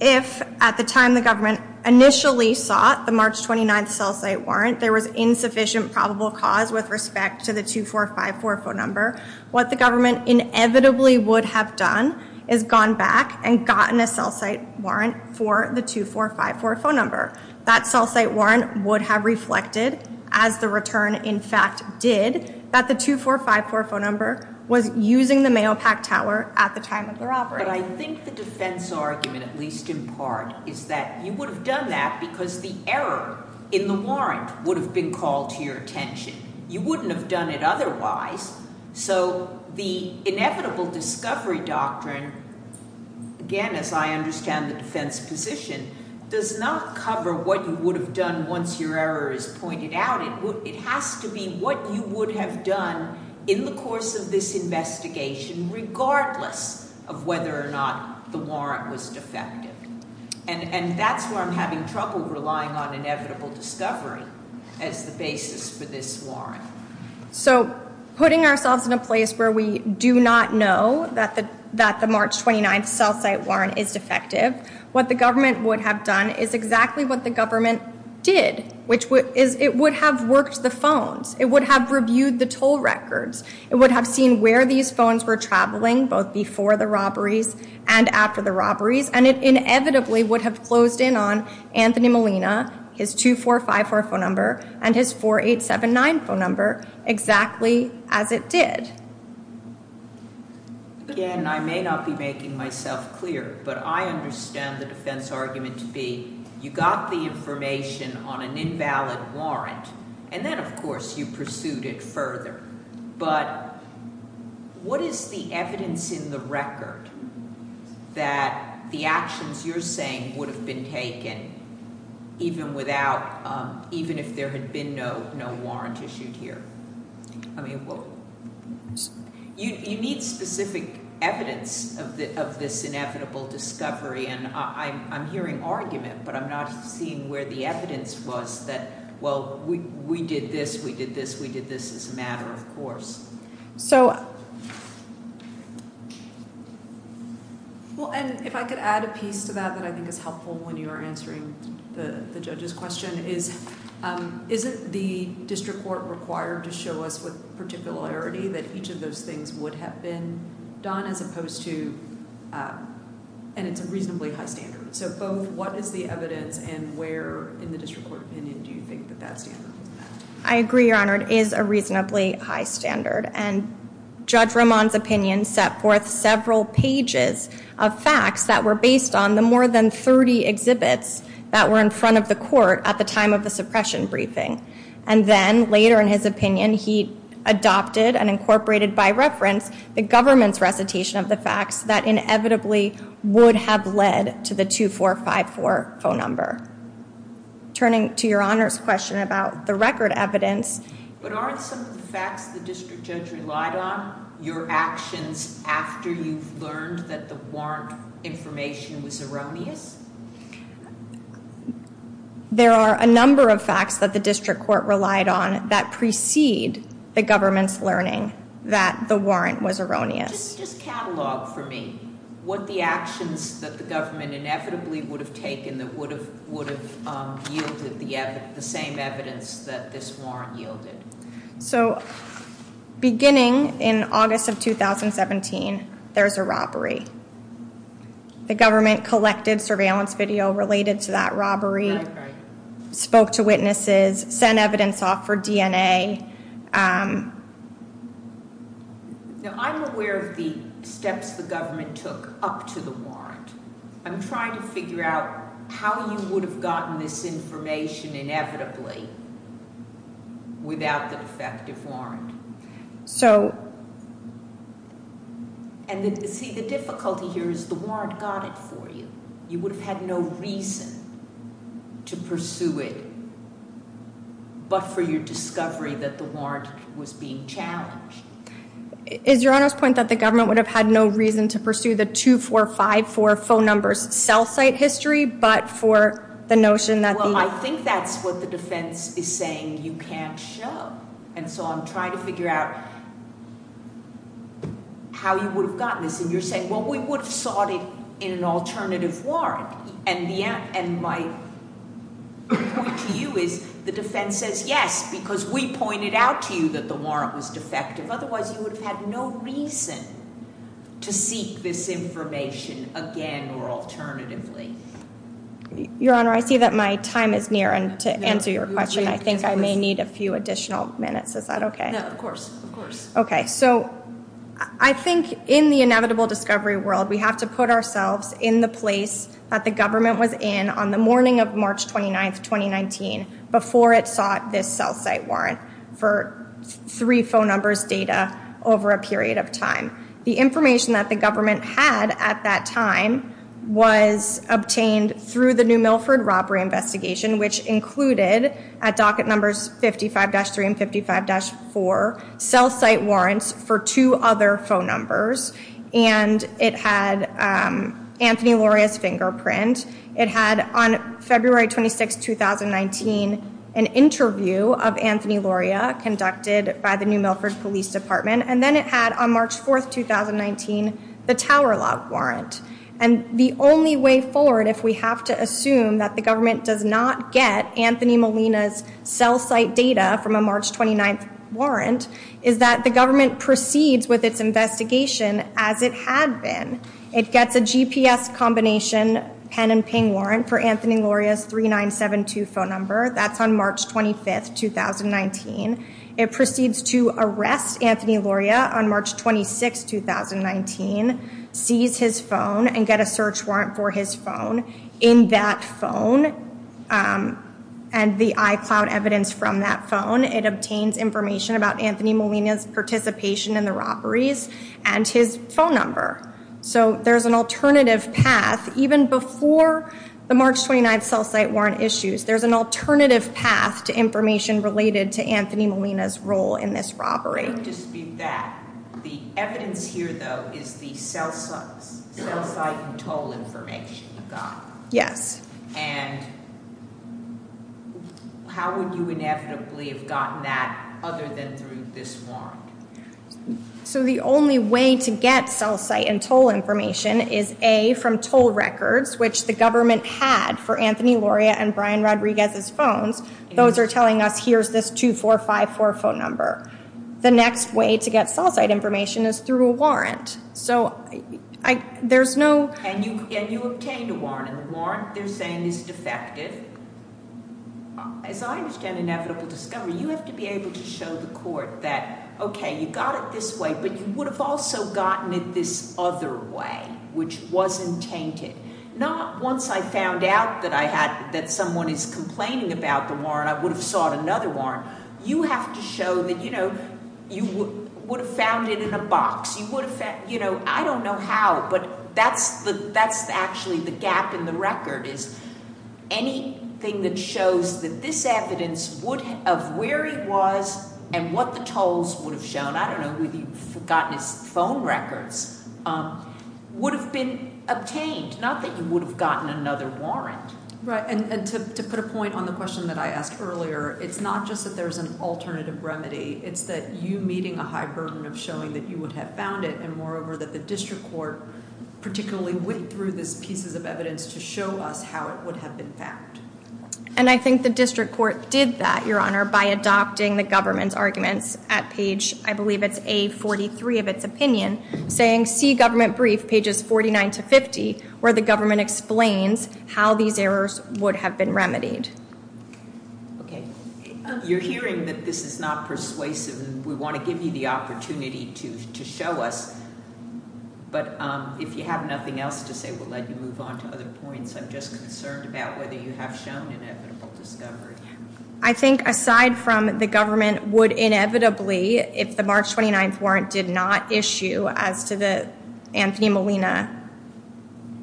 if at the time the government initially sought the March 29th probable cause with respect to the 2454 phone number, what the government inevitably would have done is gone back and gotten a cell site warrant for the 2454 phone number. That cell site warrant would have reflected, as the return in fact did, that the 2454 phone number was using the mail pack tower at the time of the robbery. But I think the defense argument, at least in part, is that you would have done that because the error in the warrant would have been called to your attention. You wouldn't have done it otherwise. So the inevitable discovery doctrine, again, as I understand the defense position, does not cover what you would have done once your error is pointed out. It has to be what you would have done in the course of this investigation regardless of whether or not the warrant was defective. And that's where I'm having trouble relying on inevitable discovery as the basis for this warrant. So putting ourselves in a place where we do not know that the March 29th cell site warrant is defective, what the government would have done is exactly what the government did. It would have worked the phones. It would have reviewed the toll records. It would have seen where these phones were traveling, both before the robberies and after the robberies. And it inevitably would have closed in on Anthony Molina, his 2454 phone number, and his 4879 phone number exactly as it did. Again, I may not be making myself clear, but I understand the defense argument to be you got the information on an invalid warrant, and then, of course, you pursued it further. But what is the evidence in the record that the actions you're saying would have been taken even if there had been no warrant issued here? You need specific evidence of this inevitable discovery, and I'm hearing argument, but I'm not seeing where the evidence was that, well, we did this, we did this, we did this as a matter of course. So... Well, and if I could add a piece to that that I think is helpful when you are answering the judge's question. Is it the district court required to show us with particularity that each of those things would have been done as opposed to... And it's a reasonably high standard. So, what is the evidence and where in the district court opinion do you think that that stands? I agree, Your Honour, it is a reasonably high standard. And Judge Ramon's opinion set forth several pages of facts that were based on the more than 30 exhibits that were in front of the court at the time of the suppression briefing. And then, later in his opinion, he adopted and incorporated by reference the government's recitation of the facts that inevitably would have led to the 2454 phone number. Turning to Your Honour's question about the record evidence... But aren't some of the facts the district judge relied on your actions after you learned that the warrant information was erroneous? There are a number of facts that the district court relied on that precede the government's learning that the warrant was erroneous. ...that would have yielded the same evidence that this warrant yielded. So, beginning in August of 2017, there's a robbery. The government collected surveillance video related to that robbery, spoke to witnesses, sent evidence off for DNA. Now, I'm aware of the steps the government took up to the warrant. I'm trying to figure out how you would have gotten this information inevitably without the effective warrant. And, see, the difficulty here is the warrant got it for you. You would have had no reason to pursue it but for your discovery that the warrant was being challenged. Is Your Honour's point that the government would have had no reason to pursue the 2454 phone number cell site history but for the notion that... Well, I think that's what the defense is saying you can't show. And so I'm trying to figure out how you would have gotten this. And you're saying, well, we would have sought it in an alternative warrant. And my point to you is the defense says yes because we pointed out to you that the warrant was defective. Otherwise, you would have had no reason to seek this information again or alternatively. Your Honour, I see that my time is near to answer your question. I think I may need a few additional minutes. Is that okay? No, of course. Okay. So, I think in the inevitable discovery world, we have to put ourselves in the place that the government was in on the morning of March 29th, 2019 before it sought this cell site warrant for three phone numbers data over a period of time. The information that the government had at that time was obtained through the New Milford robbery investigation which included at docket numbers 55-3 and 55-4 cell site warrants for two other phone numbers. And it had Anthony Loria's fingerprint. It had, on February 26th, 2019, an interview of Anthony Loria conducted by the New Milford Police Department. And then it had, on March 4th, 2019, the Tower Lock warrant. And the only way forward if we have to assume that the government does not get Anthony Molina's cell site data from a March 29th warrant is that the government proceeds with its investigation as it had been. It gets a GPS combination pen-and-ping warrant for Anthony Loria's 3972 phone number. That's on March 25th, 2019. It proceeds to arrest Anthony Loria on March 26th, 2019, seize his phone, and get a search warrant for his phone. In that phone, and the iCloud evidence from that phone, it obtains information about Anthony Molina's participation in the robberies and his phone number. So there's an alternative path. Even before the March 29th cell site warrant issues, there's an alternative path to information related to Anthony Molina's role in this robbery. The evidence here, though, is the cell site and toll information you got. Yes. And how would you inevitably have gotten that other than through this warrant? So the only way to get cell site and toll information is A, from toll records, which the government had for Anthony Loria and Brian Rodriguez's phones. Those are telling us, here's this 2454 phone number. The next way to get cell site information is through a warrant. So there's no... And you obtained a warrant, and the warrant they're saying is defective. As I understand it now from the discovery, you have to be able to show the court that, okay, you got it this way, but you would have also gotten it this other way, which wasn't tainted. Not once I found out that I had, that someone is complaining about the warrant, I would have sought another warrant. You have to show that, you know, you would have found it in a box. You would have found... You know, I don't know how, but that's actually the gap in the record, is anything that shows that this evidence of where it was and what the tolls would have shown, I don't know who got his phone records, would have been obtained, not that you would have gotten another warrant. Right, and to put a point on the question that I asked earlier, it's not just that there's an alternative remedy, it's that you meeting a high burden of showing that you would have found it, and moreover that the district court particularly went through these pieces of evidence to show us how it would have been found. And I think the district court did that, Your Honor, by adopting the government's argument at page, I believe it's A43 of its opinion, saying, see government brief, pages 49 to 50, where the government explains how these errors would have been remedied. Okay, you're hearing that this is not persuasive, and we want to give you the opportunity to show us, but if you have nothing else to say, we'll let you move on to other points. I'm just concerned about whether you have shown an evidence of this coverage. I think aside from the government would inevitably, if the March 29th warrant did not issue as to the Anthony Molina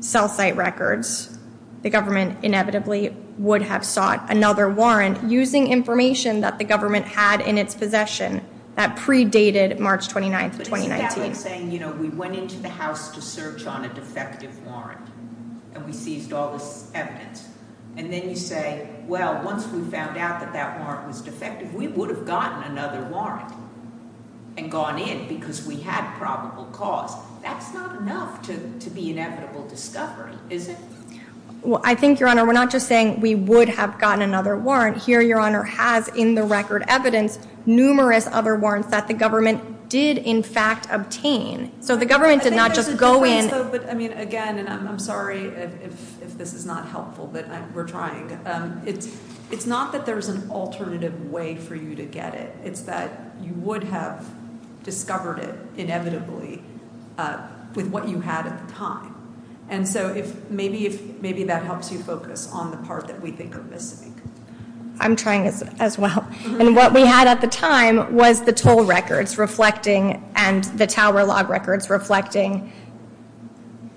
cell site records, the government inevitably would have sought another warrant using information that the government had in its possession that predated March 29th of 2019. They're saying, you know, we went into the house to search on a defective warrant, and we seized all this evidence. And then you say, well, once we found out that that warrant was defective, we would have gotten another warrant and gone in because we had probable cause. That's not enough to be inevitable discovery, is it? Well, I think, Your Honor, we're not just saying we would have gotten another warrant. Here, Your Honor, has in the record evidence numerous other warrants that the government did, in fact, obtain. So the government did not just go in... But, I mean, again, and I'm sorry if this is not helpful, but we're trying. It's not that there's an alternative way for you to get it. It's that you would have discovered it inevitably with what you had at the time. And so maybe that helps you focus on the part that we think of this week. I'm trying as well. And what we had at the time was the toll records reflecting and the tower log records reflecting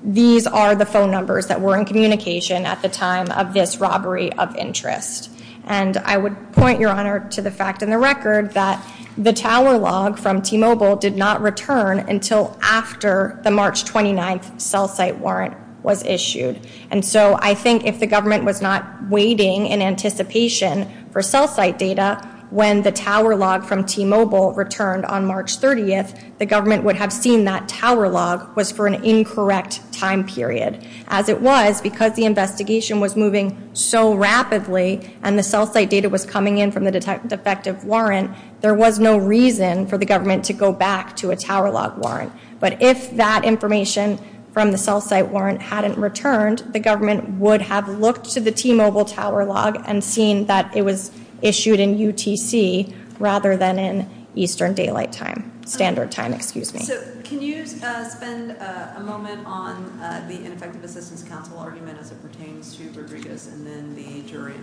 these are the phone numbers that were in communication at the time of this robbery of interest. And I would point, Your Honor, to the fact in the record that the tower log from T-Mobile did not return until after the March 29th cell site warrant was issued. And so I think if the government was not waiting in anticipation for cell site data, when the tower log from T-Mobile returned on March 30th, the government would have seen that tower log was for an incorrect time period. As it was, because the investigation was moving so rapidly and the cell site data was coming in from the defective warrant, there was no reason for the government to go back to a tower log warrant. But if that information from the cell site warrant hadn't returned, the government would have looked to the T-Mobile tower log and seen that it was issued in UTC rather than in Eastern Daylight Time, Standard Time, excuse me. So can you spend a moment on the Infectious Disease Council argument as it pertains to Rodriguez and then the jury?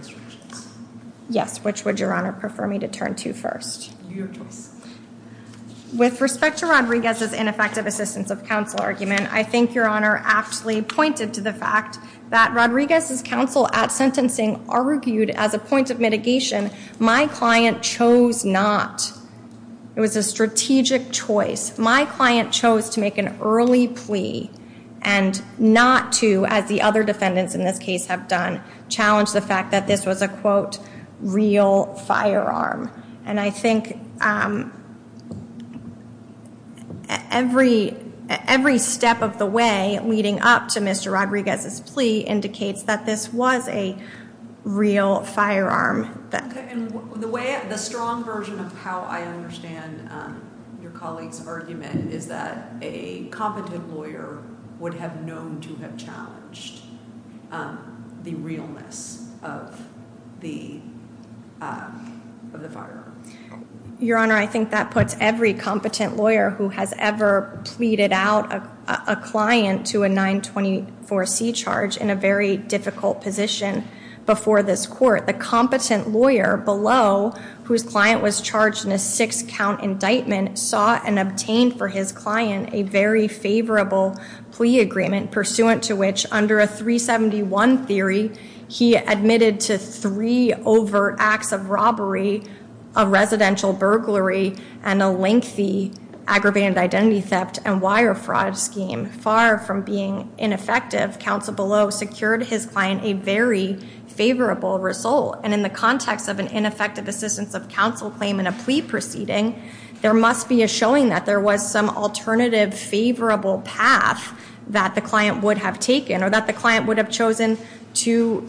Yes, which would Your Honor prefer me to turn to first? With respect to Rodriguez's ineffective assistance of counsel argument, I think Your Honor actually pointed to the fact that Rodriguez's counsel at sentencing argued as a point of mitigation, my client chose not. It was a strategic choice. My client chose to make an early plea and not to, as the other defendants in this case have done, challenge the fact that this was a, quote, real firearm. And I think every step of the way leading up to Mr. Rodriguez's plea indicates that this was a real firearm. And the way, the strong version of how I understand your colleague's argument is that a competent lawyer would have known to have challenged the realness of the firearm. Your Honor, I think that puts every competent lawyer who has ever pleaded out a client to a 924C charge in a very difficult position before this court. The competent lawyer below, whose client was charged in a six count indictment, saw and obtained for his client a very favorable plea agreement pursuant to which under a 371 theory, he admitted to three overt acts of robbery, a residential burglary, and a lengthy aggravated identity theft and wire fraud scheme. Far from being ineffective, counsel below secured his client a very favorable result. And in the context of an ineffective assistance of counsel claim in a plea proceeding, there must be a showing that there was some alternative favorable path that the client would have taken or that the client would have chosen to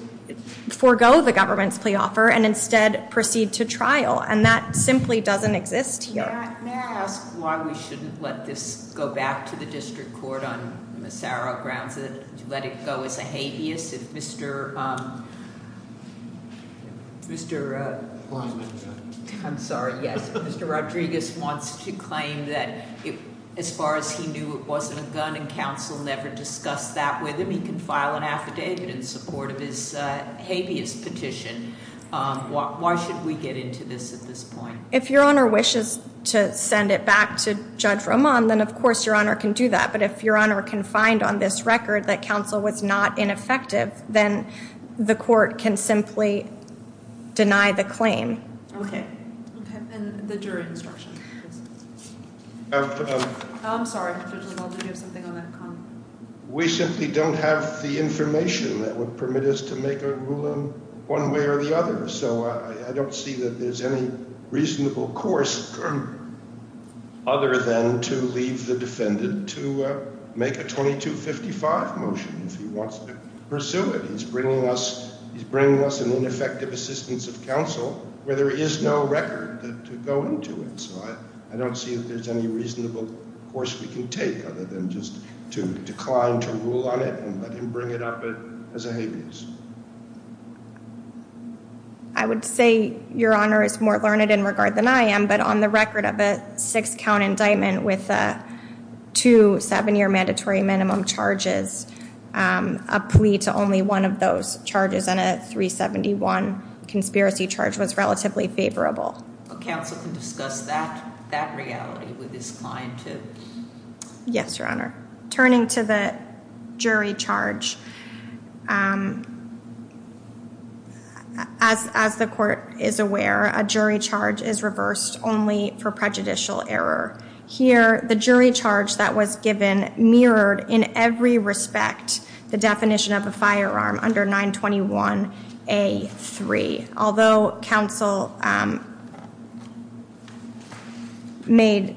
forego the government's plea offer and instead proceed to trial. And that simply doesn't exist here. May I ask why we shouldn't let this go back to the district court on the thorough grounds that it's letting go as a habeas if Mr. Rodriguez wants to claim that, as far as he knew, it wasn't a gun and counsel never discussed that with him. He can file an affidavit in support of his habeas petition. Why should we get into this at this point? If Your Honor wishes to send it back to Judge Roman, then of course Your Honor can do that. But if Your Honor can find on this record that counsel was not ineffective, then the court can simply deny the claim. OK. OK. And what's your instruction? I'm sorry, Mr. King. I hope you have something on that comment. We simply don't have the information that will permit us to make a ruling one way or the other. So I don't see that there's any reasonable course other than to leave the defendant to make a 2255 motion if he wants to pursue it. He's bringing us an ineffective assistance of counsel where there is no record to go into it. So I don't see if there's any reasonable course you can take other than just to decline, to rule on it, and let him bring it up as a habeas. I would say, Your Honor, it's more learned in regard than I am. But on the record of a six-count indictment with two seven-year mandatory minimum charges, a plea to only one of those charges and a 371 conspiracy charge was relatively favorable. Yes, Your Honor. Turning to the jury charge, as the court is aware, a jury charge is reversed only for prejudicial error. Here, the jury charge that was given mirrored in every respect the definition of a firearm under 921A3. Although counsel made a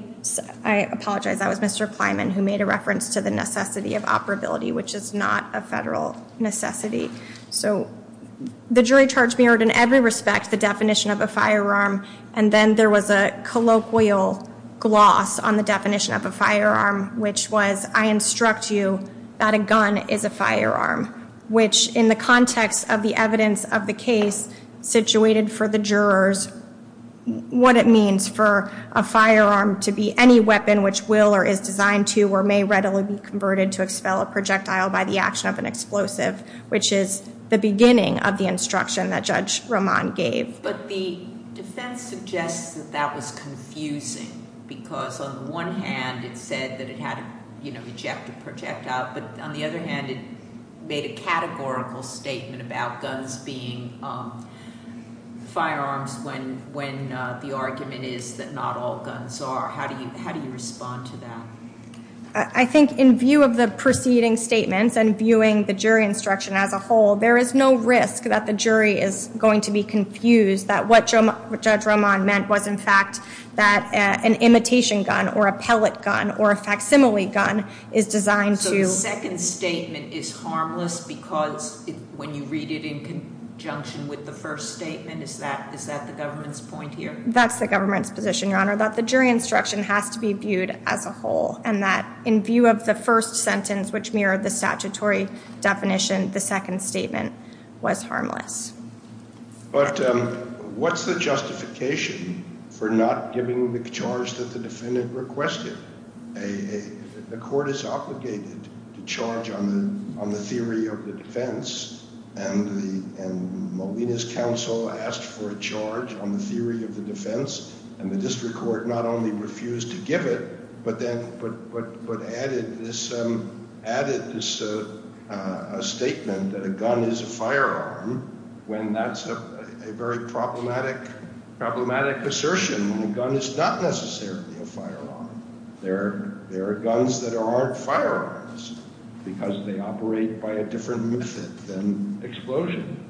reference to the necessity of operability, which is not a federal necessity. So the jury charge mirrored in every respect the definition of a firearm. And then there was a colloquial gloss on the definition of a firearm, which was, I instruct you that a gun is a firearm. Which, in the context of the evidence of the case situated for the jurors, what it means for a firearm to be any weapon which will or is designed to or may readily be converted to expel a projectile by the action of an explosive, which is the beginning of the instruction that Judge Roman gave. But the defense suggests that that was confusing. Because on the one hand, it said that it had ejected projectiles. But on the other hand, it made a categorical statement about guns being firearms when the argument is that not all guns are. How do you respond to that? I think in view of the preceding statement and viewing the jury instruction as a whole, there is no risk that the jury is going to be confused that what Judge Roman meant was, in fact, that an imitation gun or a pellet gun or a facsimile gun is designed to. So the second statement is harmless because when you read it in conjunction with the first statement, is that the government's point here? That's the government's position, Your Honor. That the jury instruction has to be viewed as a whole. And that in view of the first sentence, which mirrored the statutory definition, the second statement was harmless. But what's the justification for not giving the charge that the defendant requested? The court is obligated to charge on the theory of the defense. And Molina's counsel asked for a charge on the theory of the defense. And the district court not only refused to give it, but added this statement that a gun is a firearm when that's a very problematic assertion. A gun is not necessarily a firearm. There are guns that aren't firearms because they operate by a different method than explosion.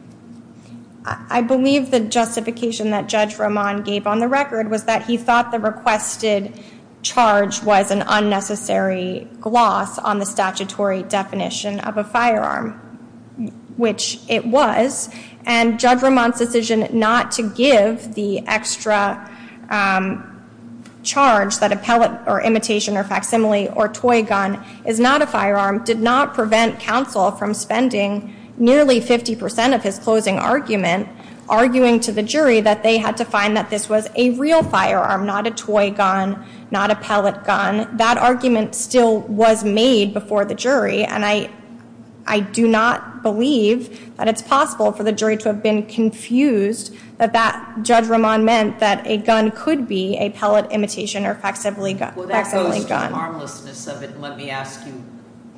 I believe the justification that Judge Roman gave on the record was that he thought the requested charge was an unnecessary gloss on the statutory definition of a firearm, which it was. And Judge Roman's decision not to give the extra charge that a pellet or imitation or facsimile or toy gun is not a firearm did not prevent counsel from spending nearly 50% of his closing argument arguing to the jury that they had to find that this was a real firearm, not a toy gun, not a pellet gun. That argument still was made before the jury. And I do not believe that it's possible for the jury to have been confused that Judge Roman meant that a gun could be a pellet, imitation, or facsimile gun. Well, that goes to the harmlessness of it. Let me ask you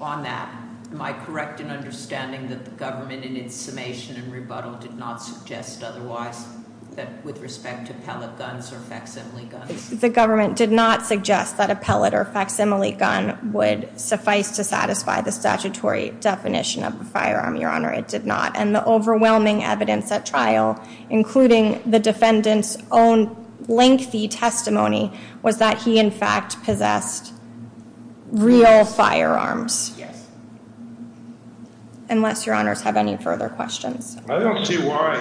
on that. Am I correct in understanding that the government in its summation and rebuttal did not suggest otherwise that with respect to pellet guns or facsimile guns? The government did not suggest that a pellet or facsimile gun would suffice to satisfy the statutory definition of a firearm, Your Honor. It did not. And the overwhelming evidence at trial, including the defendant's own lengthy testimony, was that he, in fact, possessed real firearms. Unless Your Honors have any further questions. I don't see why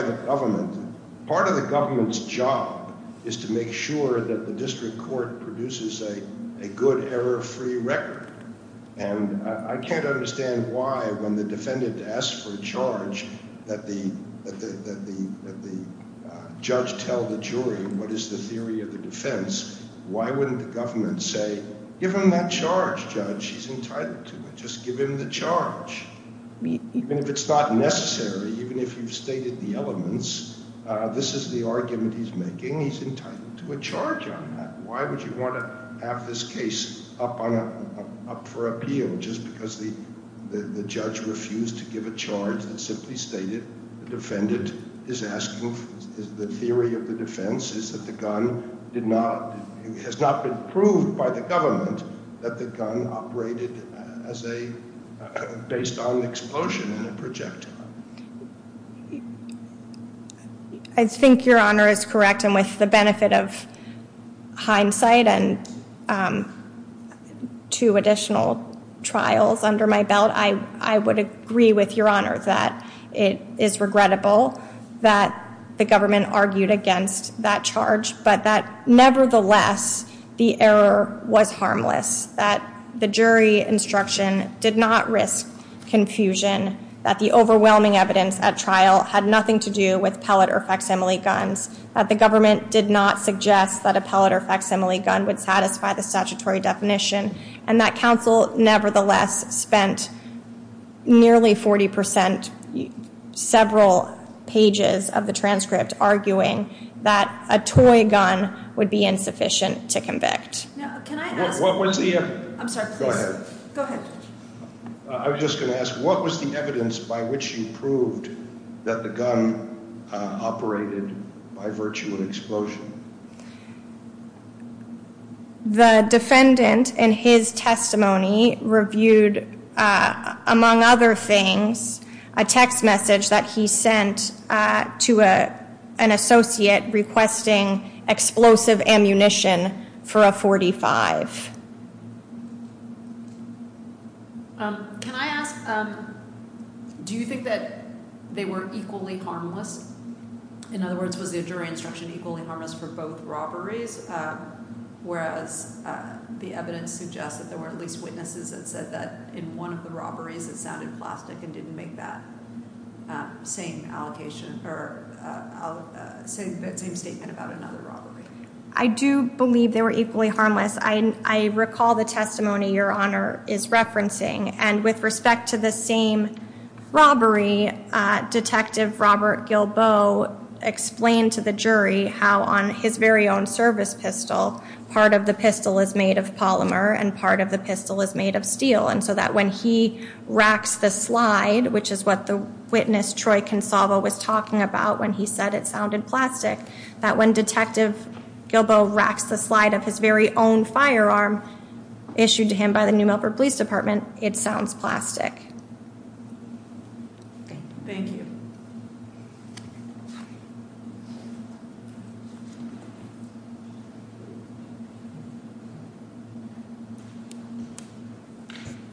the government, part of the government's job is to make sure that the district court produces a good error-free record. And I can't understand why when the defendant asks for a charge that the judge tell the jury what is the theory of the defense, why wouldn't the government say, give him that charge, Judge. He's entitled to it. Just give him the charge. Even if it's not necessary, even if you've stated the elements, this is the argument he's making. He's entitled to a charge on that. Why would you want to have this case up for appeal? Just because the judge refused to give a charge that simply stated the defendant is asking for the theory of the defense is that the gun has not been proved by the government that the gun operated based on explosion in the project. I think Your Honor is correct. And with the benefit of hindsight and two additional trials under my belt, I would agree with Your Honor that it is regrettable that the government argued against that charge. But that nevertheless, the error was harmless, that the jury instruction did not risk confusion, that the overwhelming evidence at trial had nothing to do with pellet or facsimile guns, that the government did not suggest that a pellet or facsimile gun would satisfy the statutory definition, and that counsel nevertheless spent nearly 40% several pages of the transcript arguing that a toy gun would be insufficient to convict. Now, can I ask? What was the evidence? I'm sorry. Go ahead. Go ahead. I was just going to ask, what was the evidence by which you proved that the gun operated by virtue of explosion? The defendant in his testimony reviewed, among other things, a text message that he sent to an associate requesting explosive ammunition for a .45. Can I ask, do you think that they were equally harmless? In other words, was the jury instruction equally harmless for both robberies, whereas the evidence suggests that there were at least witnesses that said that in one of the robberies it sounded plastic and didn't make that same allocation? So you're thinking about another robbery? I do believe they were equally harmless. I recall the testimony Your Honor is referencing. And with respect to the same robbery, Detective Robert Gilboa explained to the jury how on his very own service pistol, part of the pistol is made of polymer and part of the pistol is made of steel. And so that when he racked the slide, which is what the witness Troy Consalvo was talking about when he said it sounded plastic, that when Detective Gilboa racked the slide of his very own firearm issued to him by the New Melbourne Police Department, it sounds plastic. Thank you.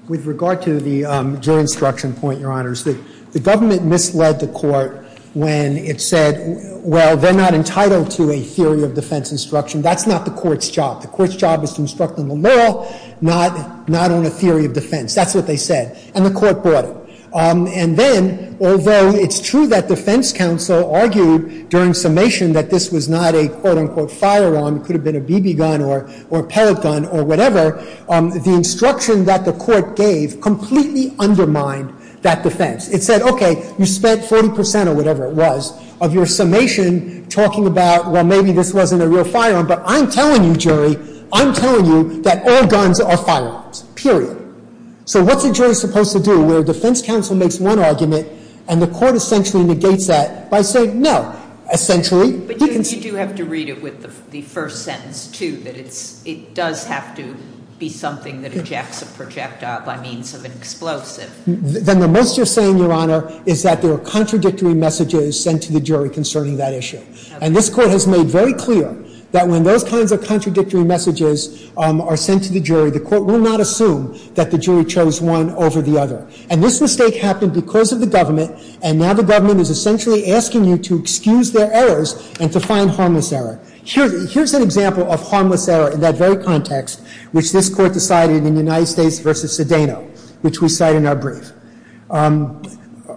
With regard to the jury instruction point, Your Honors, the government misled the court when it said, well, they're not entitled to a theory of defense instruction. That's not the court's job. The court's job is to instruct on the law, not on a theory of defense. That's what they said. And the court brought it. And then, although it's true that defense counsel argued during summation that this was not a, quote, unquote, firearm, could have been a BB gun or pellet gun or whatever, the instruction that the court gave completely undermined that defense. It said, OK, you spent 10% or whatever it was of your summation talking about, well, maybe this wasn't a real firearm. But I'm telling you, jury, I'm telling you that all guns are firearms, period. So what's a jury supposed to do? Well, defense counsel makes one argument, and the court essentially negates that by saying, no, essentially. But you do have to read it with the first sentence, too, that it does have to be something that ejects a projectile by means of an explosive. Then the most you're saying, Your Honor, is that there are contradictory messages sent to the jury concerning that issue. And this court has made very clear that when those kinds of contradictory messages are sent to the jury, the court will not assume that the jury chose one over the other. And this mistake happened because of the government, and now the government is essentially asking you to excuse their errors and to find harmless error. Here's an example of harmless error in that very context, which this court decided in the United States versus Sedano, which we cite in our brief.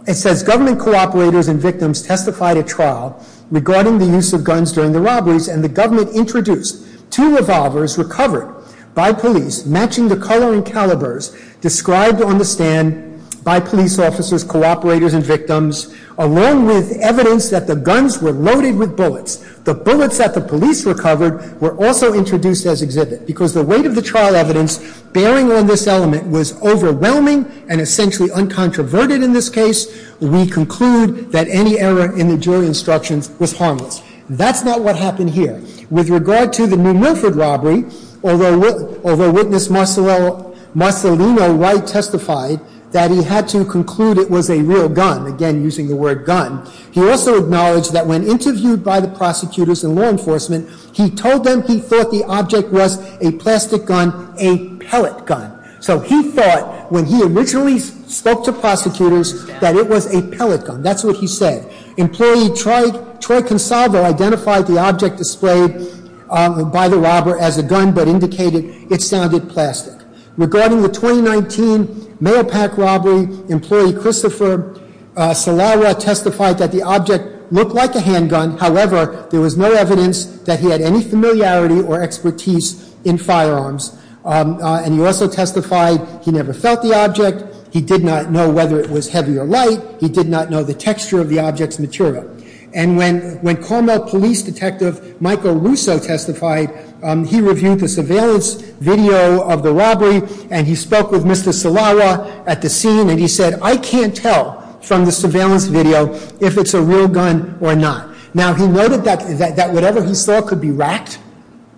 It says, Government cooperators and victims testified at trial regarding the use of guns during the robberies, and the government introduced two revolvers recovered by police, matching the color and calibers described on the stand by police officers, cooperators, and victims, along with evidence that the guns were loaded with bullets. The bullets that the police recovered were also introduced as exhibit. Because the weight of the trial evidence bearing on this element was overwhelming and essentially uncontroverted in this case, we conclude that any error in the jury instructions was harmless. That's not what happened here. With regard to the New Milford robbery, although witness Marcelino White testified that he had to conclude it was a real gun, again using the word gun, he also acknowledged that when interviewed by the prosecutors and law enforcement, he told them he thought the object was a plastic gun, a pellet gun. So he thought, when he originally spoke to prosecutors, that it was a pellet gun. That's what he said. Employee Troy Consalvo identified the object displayed by the robber as a gun, but indicated it sounded plastic. Regarding the 2019 mail pack robbery, employee Christopher Salara testified that the object looked like a handgun. However, there was no evidence that he had any familiarity or expertise in firearms. And he also testified he never felt the object. He did not know whether it was heavy or light. He did not know the texture of the object's material. And when Carmel Police Detective Michael Russo testified, he reviewed the surveillance video of the robbery, and he spoke with Mr. Salara at the scene, and he said, I can't tell from the surveillance video if it's a real gun or not. Now, he noted that whatever he saw could be racked,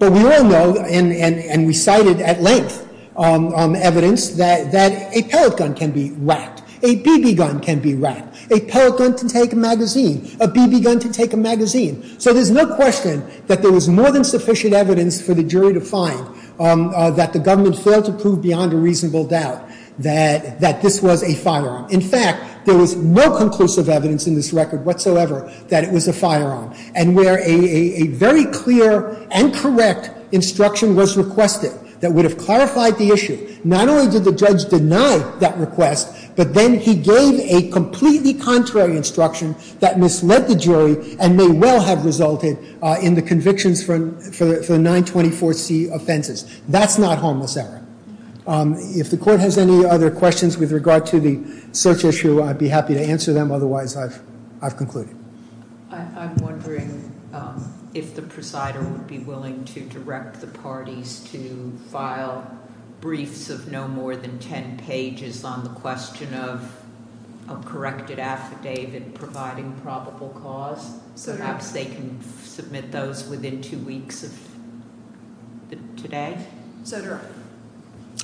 but we all know, and we cited at length evidence, that a pellet gun can be racked. A BB gun can be racked. A pellet gun can take a magazine. A BB gun can take a magazine. So there's no question that there was more than sufficient evidence for the jury to find that the government failed to prove beyond a reasonable doubt that this was a firearm. In fact, there was no conclusive evidence in this record whatsoever that it was a firearm. And where a very clear and correct instruction was requested that would have clarified the issue, not only did the judge deny that request, but then he gave a completely contrary instruction that misled the jury and may well have resulted in the convictions for the 924C offenses. That's not homosexual. If the court has any other questions with regard to the search issue, I'd be happy to answer them. Otherwise, I've concluded. I'm wondering if the presider would be willing to direct the parties to file briefs of no more than 10 pages on the question of a corrected affidavit providing probable cause so that they can submit those within two weeks of today.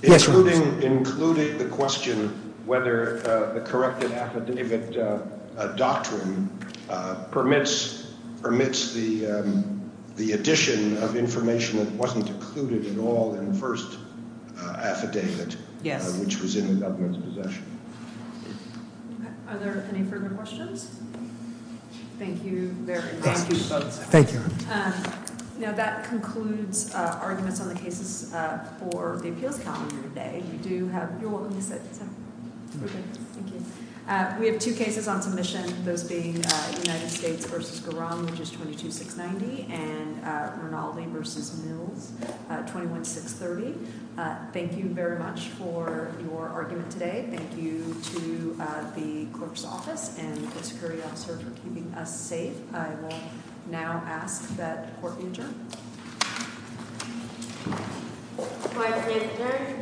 Including the question whether the corrected affidavit doctrine permits the addition of information that wasn't included at all in the first affidavit which was in the government's possession. Are there any further questions? Thank you very much. Thank you. Thank you. Now, that concludes arguments on the cases for the field commons today. We do have a few more cases. Thank you. We have two cases on commission, those being United States v. Garam, which is 22690, and Rinaldi v. Newell, 21530. Thank you very much for your arguments today. Thank you to the clerk's office and the security officers for keeping us safe. I will now ask that the court be adjourned. Final hearing. Thank you.